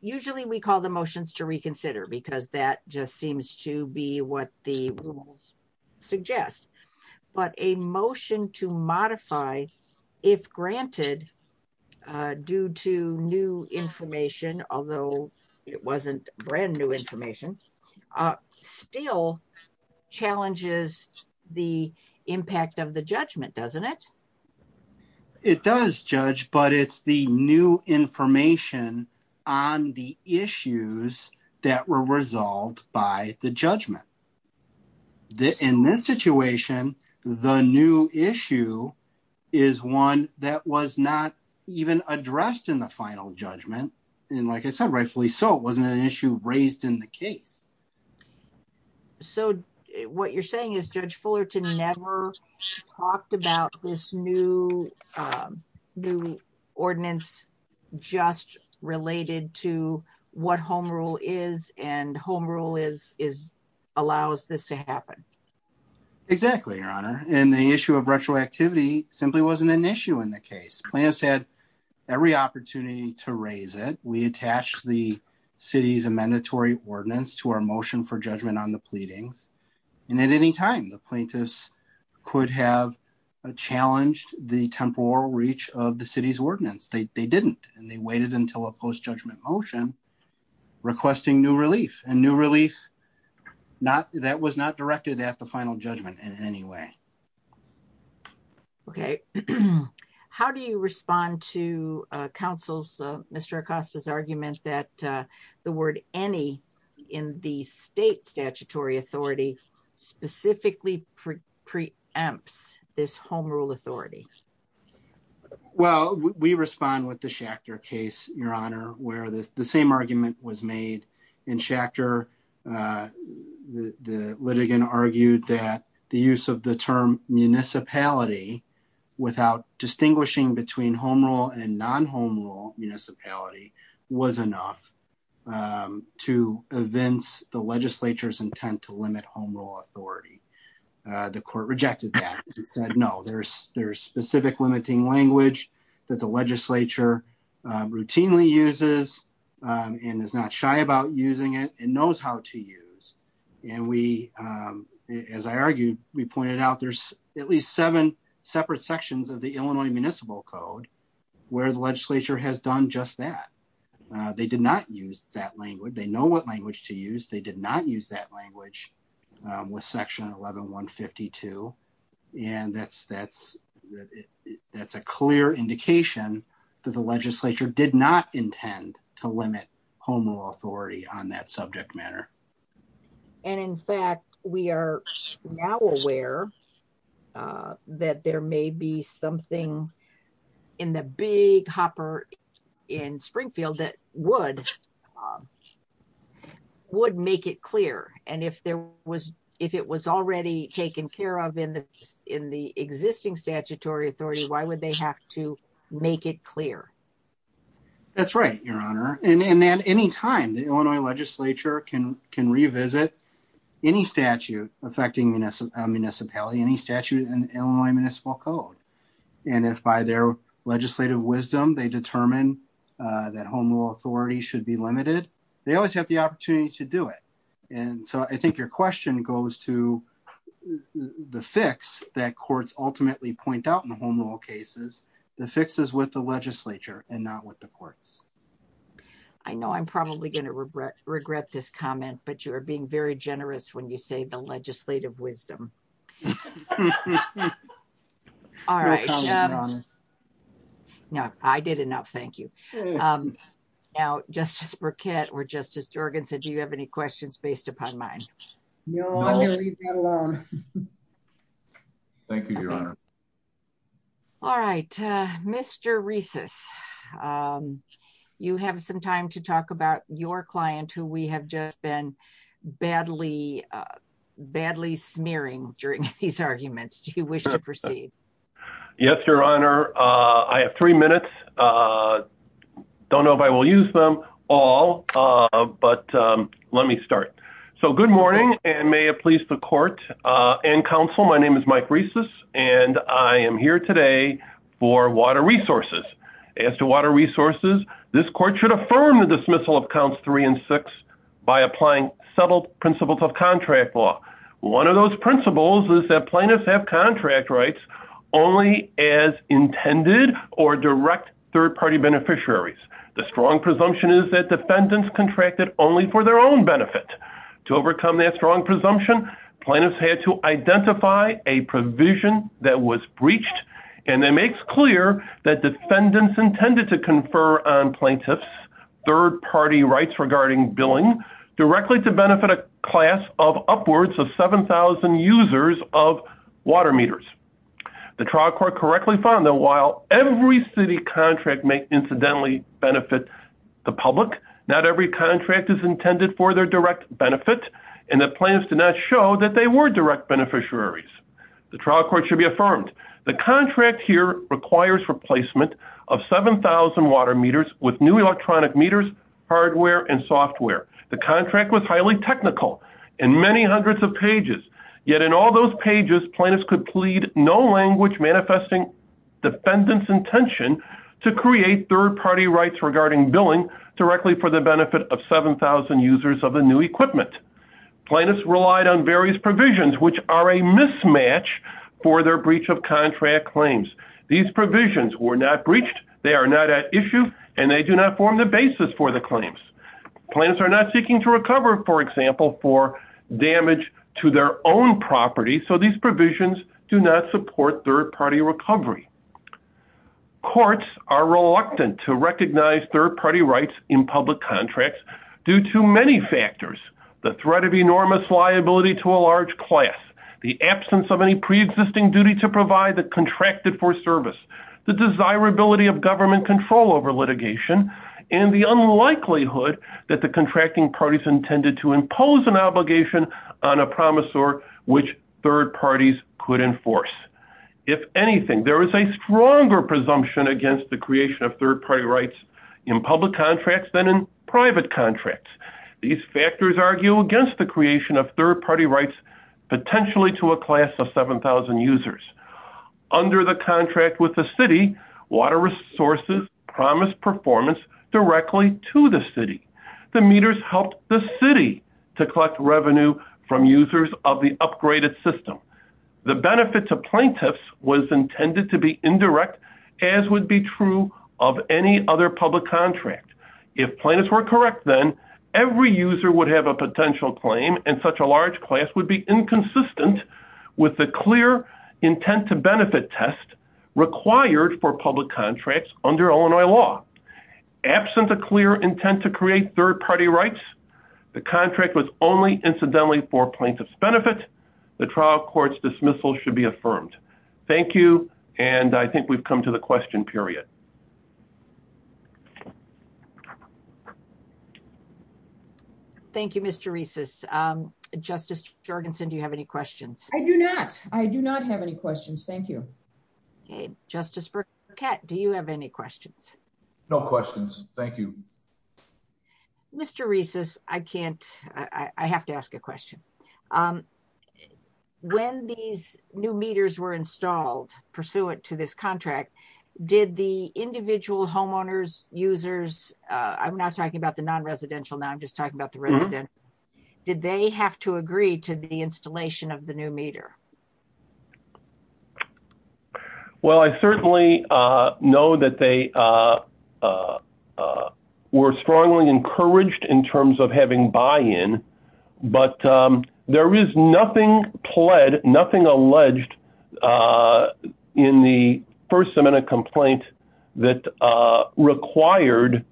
usually we call the motions to reconsider because that just seems to be what the rules suggest, but a motion to modify, if granted, due to new information, although it wasn't brand new information, still challenges the impact of the judgment, doesn't it? It does, Judge, but it's the new information on the issues that were resolved by the judgment. In this situation, the new issue is one that was not even addressed in the final judgment, and like I said, rightfully so. It wasn't an issue raised in the case. So what you're saying is Judge Fullerton never talked about this new ordinance just related to what Home Rule is, and Home Rule allows this to happen. Exactly, Your Honor, and the issue of retroactivity simply wasn't an issue in the case. Plaintiffs had every opportunity to raise it. We attached the city's amendatory ordinance to our motion for judgment on the pleading, and at any time, the plaintiffs could have challenged the temporal reach of the city's ordinance. They didn't, and they waited until a post-judgment motion requesting new relief, and new relief, that was not directed at the final judgment in any way. Okay. How do you respond to counsel's, Mr. Acosta's argument that the word any in the state statutory authority specifically preempts this Home Rule authority? Well, we respond with the Schachter case, Your Honor, where the same argument was made. In Schachter, the litigant argued that the use of the term municipality without distinguishing between Home Rule and non-Home Rule municipality was enough to evince the legislature's intent to limit Home Rule authority. The court rejected that. It said, no, there's specific limiting language that the legislature routinely uses, and is not shy about using it, and knows how to use. And we, as I argued, we pointed out there's at least seven separate sections of the Illinois Municipal Code where the legislature has done just that. They did not use that language. They know what language to use. They did not use that language with section 11-152. And that's a clear indication that the legislature did not intend to limit Home Rule authority on that subject matter. And in fact, we are now aware that there may be something in the big hopper in Springfield that would make it clear. And if it was already taken care of in the existing statutory authority, why would they have to make it clear? That's right, Your Honor. And at any time, the Illinois legislature can revisit any statute affecting municipality, any statute in Illinois should be limited. They always have the opportunity to do it. And so I think your question goes to the fix that courts ultimately point out in Home Rule cases. The fix is with the legislature and not with the courts. I know I'm probably going to regret this comment, but you are being very generous when you say the legislative wisdom. All right. No, I did enough. Thank you. Now, Justice Burkett or Justice Jorgensen, do you have any questions based upon mine? No. Thank you, Your Honor. All right. Mr. Reeses, you have some time to talk about your client who we have just been badly smearing during these arguments. Do you wish to proceed? Yes, Your Honor. I have three minutes. Don't know if I will use them all, but let me start. So good morning and may it please the court and counsel. My name is Mike Reeses and I am here today for water resources. As to water resources, this court should affirm the dismissal of counts three and six by applying subtle principles of contract law. One of those principles is that plaintiffs have contract rights only as intended or direct third-party beneficiaries. The strong presumption is that defendants contracted only for their own benefit. To overcome that strong presumption, plaintiffs had to identify a provision that was breached and that makes clear that billing directly to benefit a class of upwards of 7,000 users of water meters. The trial court correctly found that while every city contract may incidentally benefit the public, not every contract is intended for their direct benefit and the plaintiffs did not show that they were direct beneficiaries. The trial court should be affirmed. The contract here requires replacement of 7,000 water meters with new electronic meters, hardware, and software. The contract was highly technical and many hundreds of pages. Yet in all those pages, plaintiffs could plead no language manifesting defendant's intention to create third-party rights regarding billing directly for the benefit of 7,000 users of the new equipment. Plaintiffs relied on various provisions which are a mismatch for their breach of contract claims. These provisions were not breached, they are not at issue, and they do not form the basis for the claims. Plaintiffs are not seeking to recover, for example, for damage to their own property, so these provisions do not support third-party recovery. Courts are reluctant to recognize third-party rights in public contracts due to many factors, the threat of enormous liability to a large class, the absence of any pre-existing duty to provide the contracted for service, the desirability of government control over litigation, and the unlikelihood that the contracting parties intended to impose an obligation on a promisor which third parties could enforce. If anything, there is a stronger presumption against the creation of third-party rights in public contracts than in private contracts. These factors argue against the creation of third-party rights potentially to a class of 7,000 users. Under the contract with the city, Water Resources promised performance directly to the city. The meters helped the city to collect revenue from users of the upgraded system. The benefit to plaintiffs was intended to be indirect, as would be true of any other public contract. If plaintiffs were correct, then every user would have a potential claim, and such a large class would be inconsistent with the clear intent to benefit test required for public contracts under Illinois law. Absent a clear intent to create third-party rights, the contract was only incidentally for plaintiff's benefit. The trial court's dismissal should be affirmed. Thank you, and I think we've come to the question period. Thank you, Mr. Reeses. Justice Jorgensen, do you have any questions? I do not. I do not have any questions. Thank you. Justice Burkett, do you have any questions? No questions. Thank you. Mr. Reeses, I have to ask a question. When these new meters were installed pursuant to this contract, did the individual homeowners, users, I'm not talking about the non-residential now, I'm just talking about the residents, did they have to agree to the installation of the new meter? Well, I certainly know that they were strongly encouraged in terms of having buy-in, but there is nothing pled, nothing alleged in the first amendment complaint that required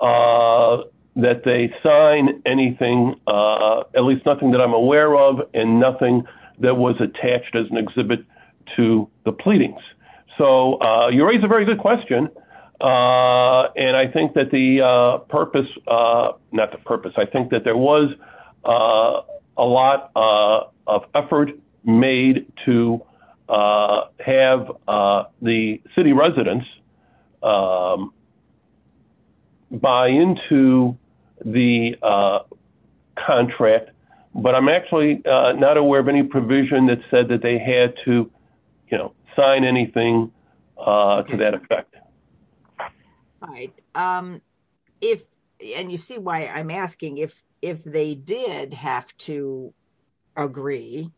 that they sign anything, at least nothing that I'm aware of, and nothing that was attached as an exhibit to the pleadings. So, you raise a very good question, and I think that the purpose, not the purpose, I think that there was a lot of effort made to have the city residents buy into the contract, but I'm actually not aware of any provision that said that they had to sign anything to that effect. And you see why I'm asking, if they did have to agree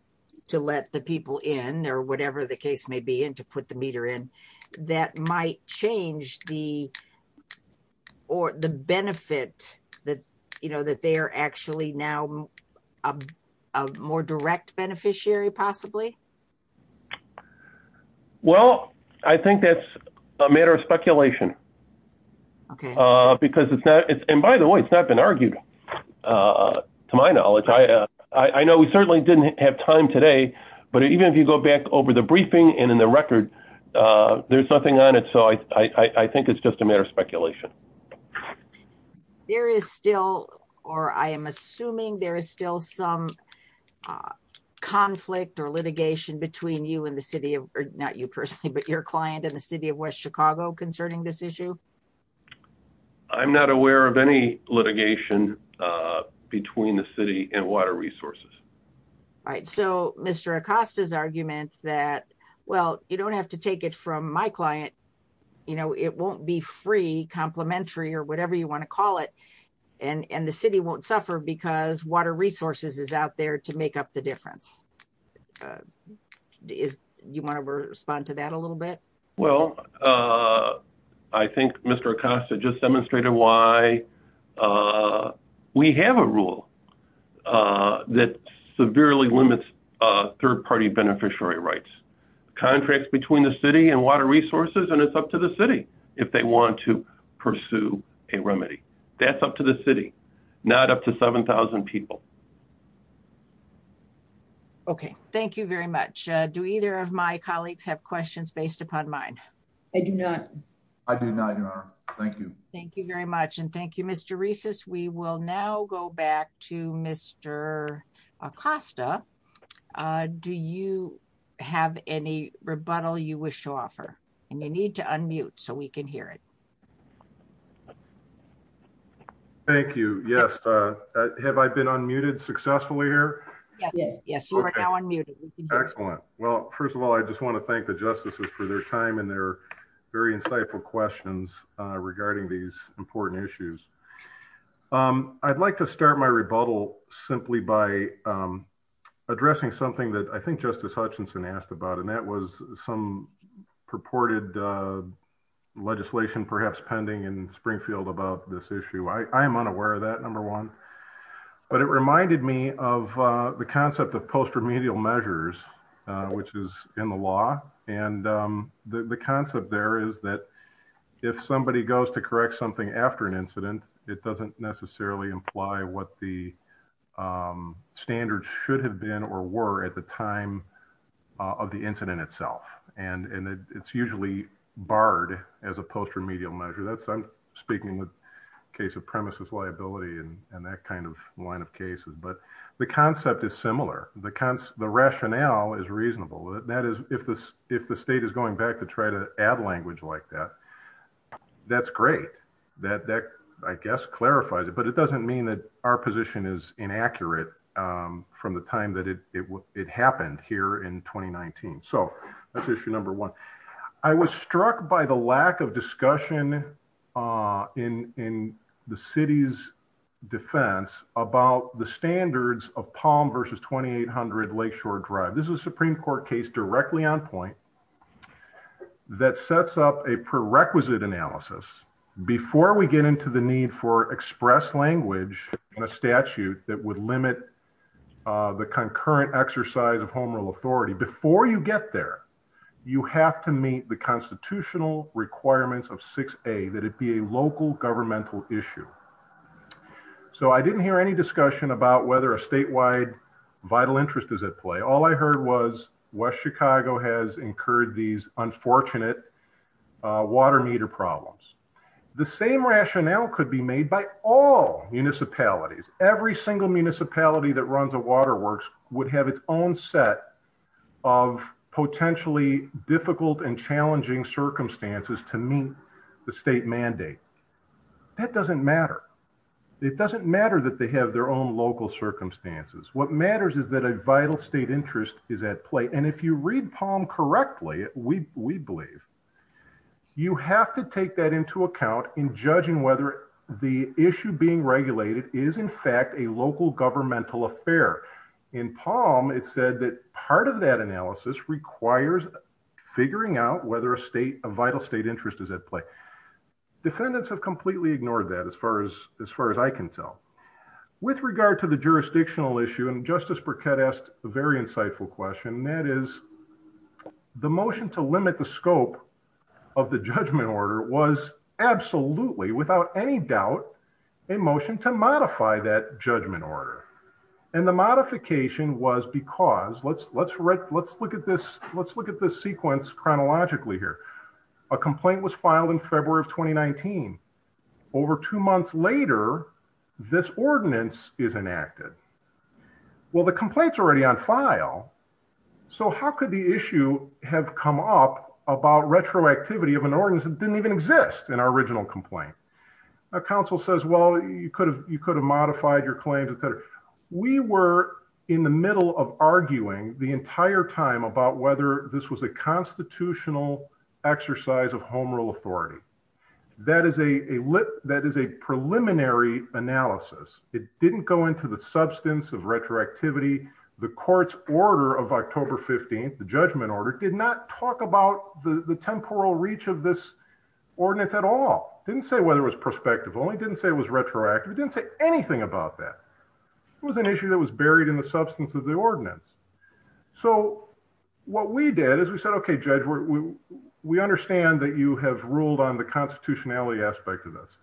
to let the people in, whatever the case may be, to put the meter in, that might change the benefit that they are actually now a more direct beneficiary, possibly? Well, I think that's a matter of speculation. And by the way, it's not been argued, to my knowledge. I know we certainly didn't have time today, but even if you go back over the briefing and in the record, there's nothing on it, so I think it's just a matter of speculation. There is still, or I am assuming there is still some conflict or litigation between you and the city of, not you personally, but your client and the city of West Chicago concerning this issue? I'm not aware of any litigation between the city and Water Resources. All right. So Mr. Acosta's argument that, well, you don't have to take it from my client, you know, it won't be free, complimentary, or whatever you want to call it, and the city won't suffer because Water Resources is out there to make up the difference. Do you want to respond to that a little bit? Well, I think Mr. Acosta just demonstrated why we have a rule that severely limits third-party beneficiary rights. Contracts between the city and Water Resources, and it's up to the city if they want to pursue a remedy. That's up to the city, not up to 7,000 people. Okay. Thank you very much. Do either of my colleagues have questions based upon mine? I do not. I do not, Your Honor. Thank you. Thank you very much, and thank you, Mr. Reeses. We will now go back to Mr. Acosta. Do you have any rebuttal you wish to offer? And you need to unmute so we can hear it. Thank you. Yes. Have I been unmuted successfully here? Yes, you are now unmuted. Excellent. Well, first of all, I just want to thank the justices for their time and their very insightful questions regarding these important issues. I'd like to start my rebuttal simply by addressing something that I think Justice Hutchinson asked about, and that was some purported legislation, perhaps pending, in Springfield about this issue. I am unaware of that, number one, but it reminded me of the concept of post-remedial measures, which is in the law, and the concept there is that if somebody goes to correct something after an incident, it doesn't necessarily imply what the standards should have been or were at the time of the incident itself, and it's usually barred as a post-remedial measure. That's speaking in the case of premises liability and that kind of line of cases, but the concept is similar. The rationale is reasonable. That is, if the state is going back to try to add language like that, that's great. That, I guess, clarifies it, but it doesn't mean that our position is inaccurate from the time that it happened here in 2019. So that's issue number one. I was struck by the lack of discussion in the city's defense about the standards of Palm versus 2800 Lakeshore Drive. This is a Supreme Court case directly on point that sets up a prerequisite analysis before we get into the need for express language in a statute that would limit the concurrent exercise of Home Rule authority. Before you get there, you have to meet the constitutional requirements of 6A, that it be a local governmental issue. So I didn't hear any discussion about whether a statewide vital interest is at play. All I heard was West Chicago has incurred these unfortunate water meter problems. The same rationale could be made by all municipalities. Every single municipality that runs a water works would have its own set of potentially difficult and challenging circumstances to meet the state mandate. That doesn't matter. It doesn't matter that they have their own local circumstances. What matters is that a vital state interest is at play. And if you read Palm correctly, we believe, you have to take that into account in judging whether the issue being regulated is, in fact, a local governmental affair. In Palm, it said that part of that analysis requires figuring out whether a state, a vital state interest is at play. Defendants have completely ignored that, as far as I can tell. With regard to the jurisdictional issue, and Justice Burkett asked a very insightful question, that is, the motion to limit the scope of the judgment order was absolutely, without any doubt, a motion to modify that judgment order. And the modification was because, let's look at this sequence chronologically here. A complaint was filed in February of 2019. Over two months later, this ordinance is enacted. Well, the complaint's already on file, so how could the issue have come up about retroactivity of an ordinance that didn't even exist in our original complaint? Now, counsel says, well, you could have modified your claims, et cetera. We were in the middle of arguing the entire time about whether this was a That is a preliminary analysis. It didn't go into the substance of retroactivity. The court's order of October 15th, the judgment order, did not talk about the temporal reach of this ordinance at all. It didn't say whether it was prospective. It only didn't say it was retroactive. It didn't say anything about that. It was an issue that was buried in the substance of the ordinance. So what we did is we said, okay, judge, we understand that you have ruled on the constitutionality aspect of this.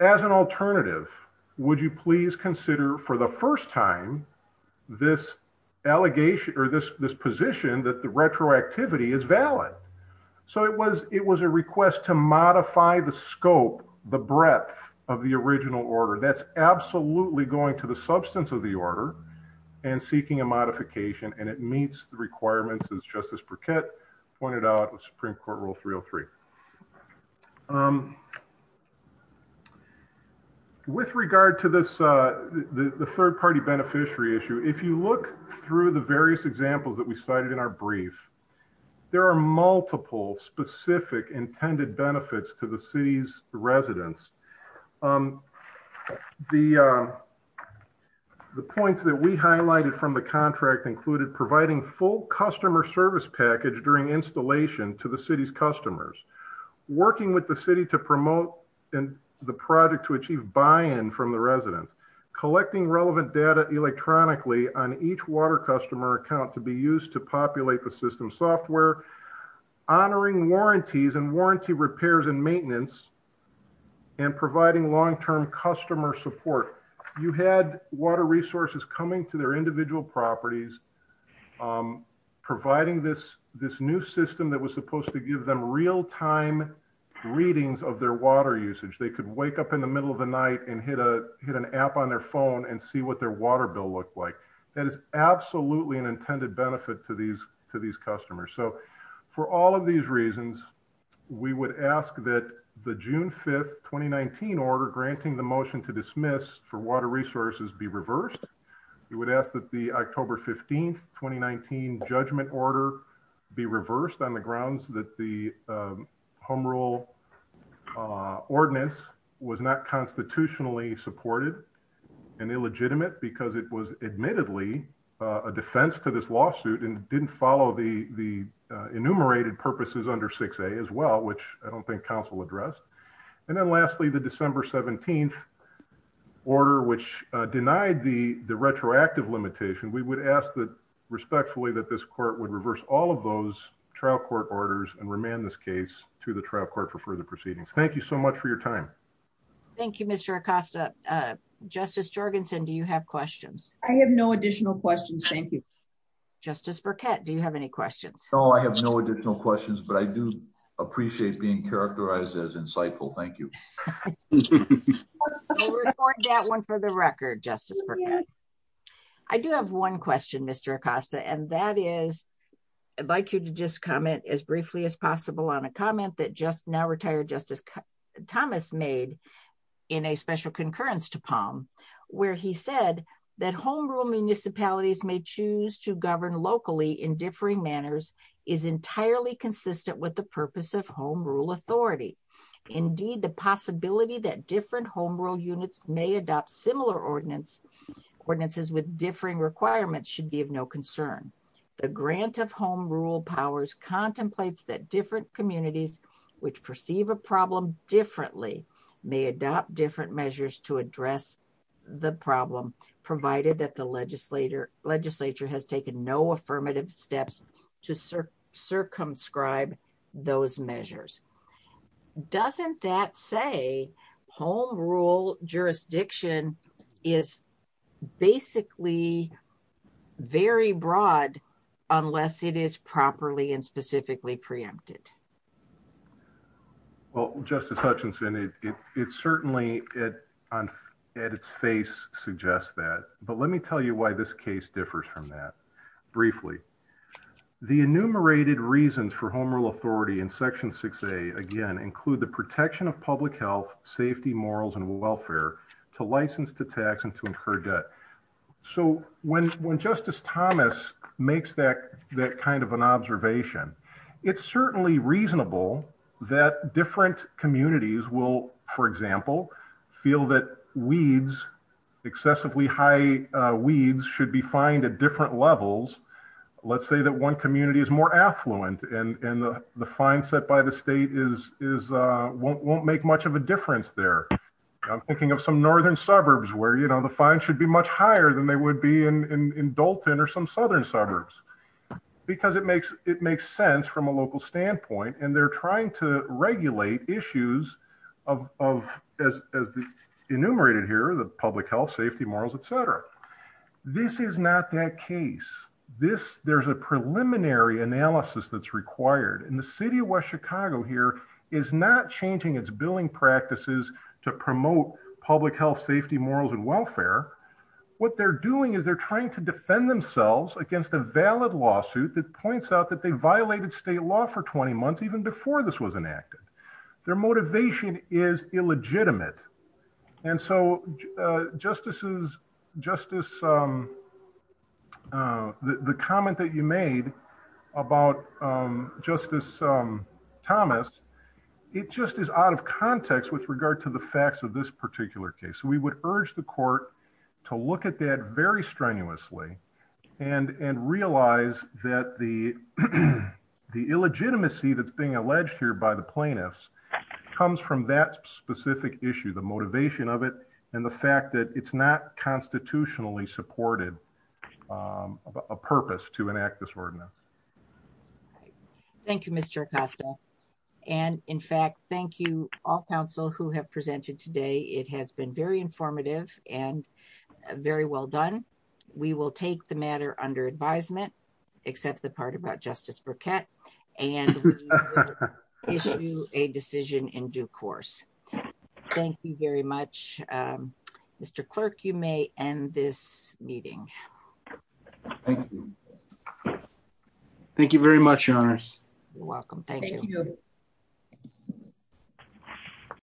As an alternative, would you please consider for the first time this allegation or this position that the retroactivity is valid? So it was a request to modify the scope, the breadth of the original order. That's absolutely going to the substance of the order and seeking a modification and it meets the requirements as Justice Burkett pointed out with Supreme Court Rule 303. With regard to this, the third-party beneficiary issue, if you look through the various examples that we cited in our brief, there are multiple specific intended benefits to the city's residents. The points that we highlighted from the contract included providing full customer service package during installation to the city's customers, working with the city to promote the project to achieve buy-in from the residents, collecting relevant data electronically on each water customer account to be used to populate the system software, honoring warranties and warranty repairs and maintenance, and providing long-term customer support. You had water resources coming to their individual properties, providing this new system that was supposed to give them real-time readings of their water usage. They could wake up in the middle of the night and hit an app on their phone and see what their water bill looked like. That is absolutely an intended benefit to these customers. For all of these reasons, we would ask that the June 5th, 2019 order granting the motion to dismiss for water resources be reversed. We would ask that the October 15th, 2019 judgment order be reversed on the grounds that the Home Rule ordinance was not constitutionally supported and illegitimate because it was admittedly a defense to this lawsuit and didn't follow the enumerated purposes under 6A as well, which I don't think council addressed. And then lastly, the December 17th order, which denied the retroactive limitation, we would ask that respectfully that this court would reverse all of those trial court orders and remand this case to the trial court for further proceedings. Thank you so much for your time. Thank you, Mr. Acosta. Justice Jorgensen, do you have questions? I have no additional questions. Thank you. Justice Burkett, do you have any questions? No, I have no additional questions, but I do appreciate being characterized as insightful. Thank you. We'll record that one for the record, Justice Burkett. I do have one question, Mr. Acosta, and that is I'd like you to just comment as briefly as possible on a comment that just now in a special concurrence to Palm, where he said that home rule municipalities may choose to govern locally in differing manners is entirely consistent with the purpose of home rule authority. Indeed, the possibility that different home rule units may adopt similar ordinances with differing requirements should be of no concern. The grant of home rule powers contemplates that different communities which perceive a problem differently may adopt different measures to address the problem, provided that the legislature has taken no affirmative steps to circumscribe those measures. Doesn't that say home rule jurisdiction is basically very broad, unless it is properly and specifically preempted? Well, Justice Hutchinson, it certainly, at its face, suggests that. But let me tell you why this case differs from that briefly. The enumerated reasons for home rule authority in section 6A, again, include the protection of public health, safety, morals, and welfare to license to tax and to incur debt. So when Justice Thomas makes that kind of an observation, it's certainly reasonable that different communities will, for example, feel that excessively high weeds should be fined at different levels. Let's say that one community is more affluent and the fine set by the state won't make much of a difference there. I'm thinking of some northern suburbs where, the fine should be much higher than it would be in Dalton or some southern suburbs, because it makes sense from a local standpoint. And they're trying to regulate issues of, as enumerated here, the public health, safety, morals, et cetera. This is not that case. There's a preliminary analysis that's required. And the city of West Chicago here is not changing its billing practices to promote public health, safety, morals, and welfare. What they're doing is they're trying to defend themselves against a valid lawsuit that points out that they violated state law for 20 months, even before this was enacted. Their motivation is illegitimate. And so the comment that you made about Justice Thomas, it just is out of context with regard to the facts of this particular case. We would urge the court to look at that very strenuously and realize that the illegitimacy that's being alleged here by the plaintiffs comes from that specific issue, the motivation of it, and the fact that it's not constitutionally supported a purpose to enact this ordinance. Thank you, Mr. Acosta. And in fact, thank you, all counsel who have presented today. It has been very informative and very well done. We will take the matter under advisement, except the part about Justice Burkett, and issue a decision in due course. Thank you very much. Mr. Clerk, you may end this meeting. Thank you. Thank you very much, Your Honor. You're welcome. Thank you.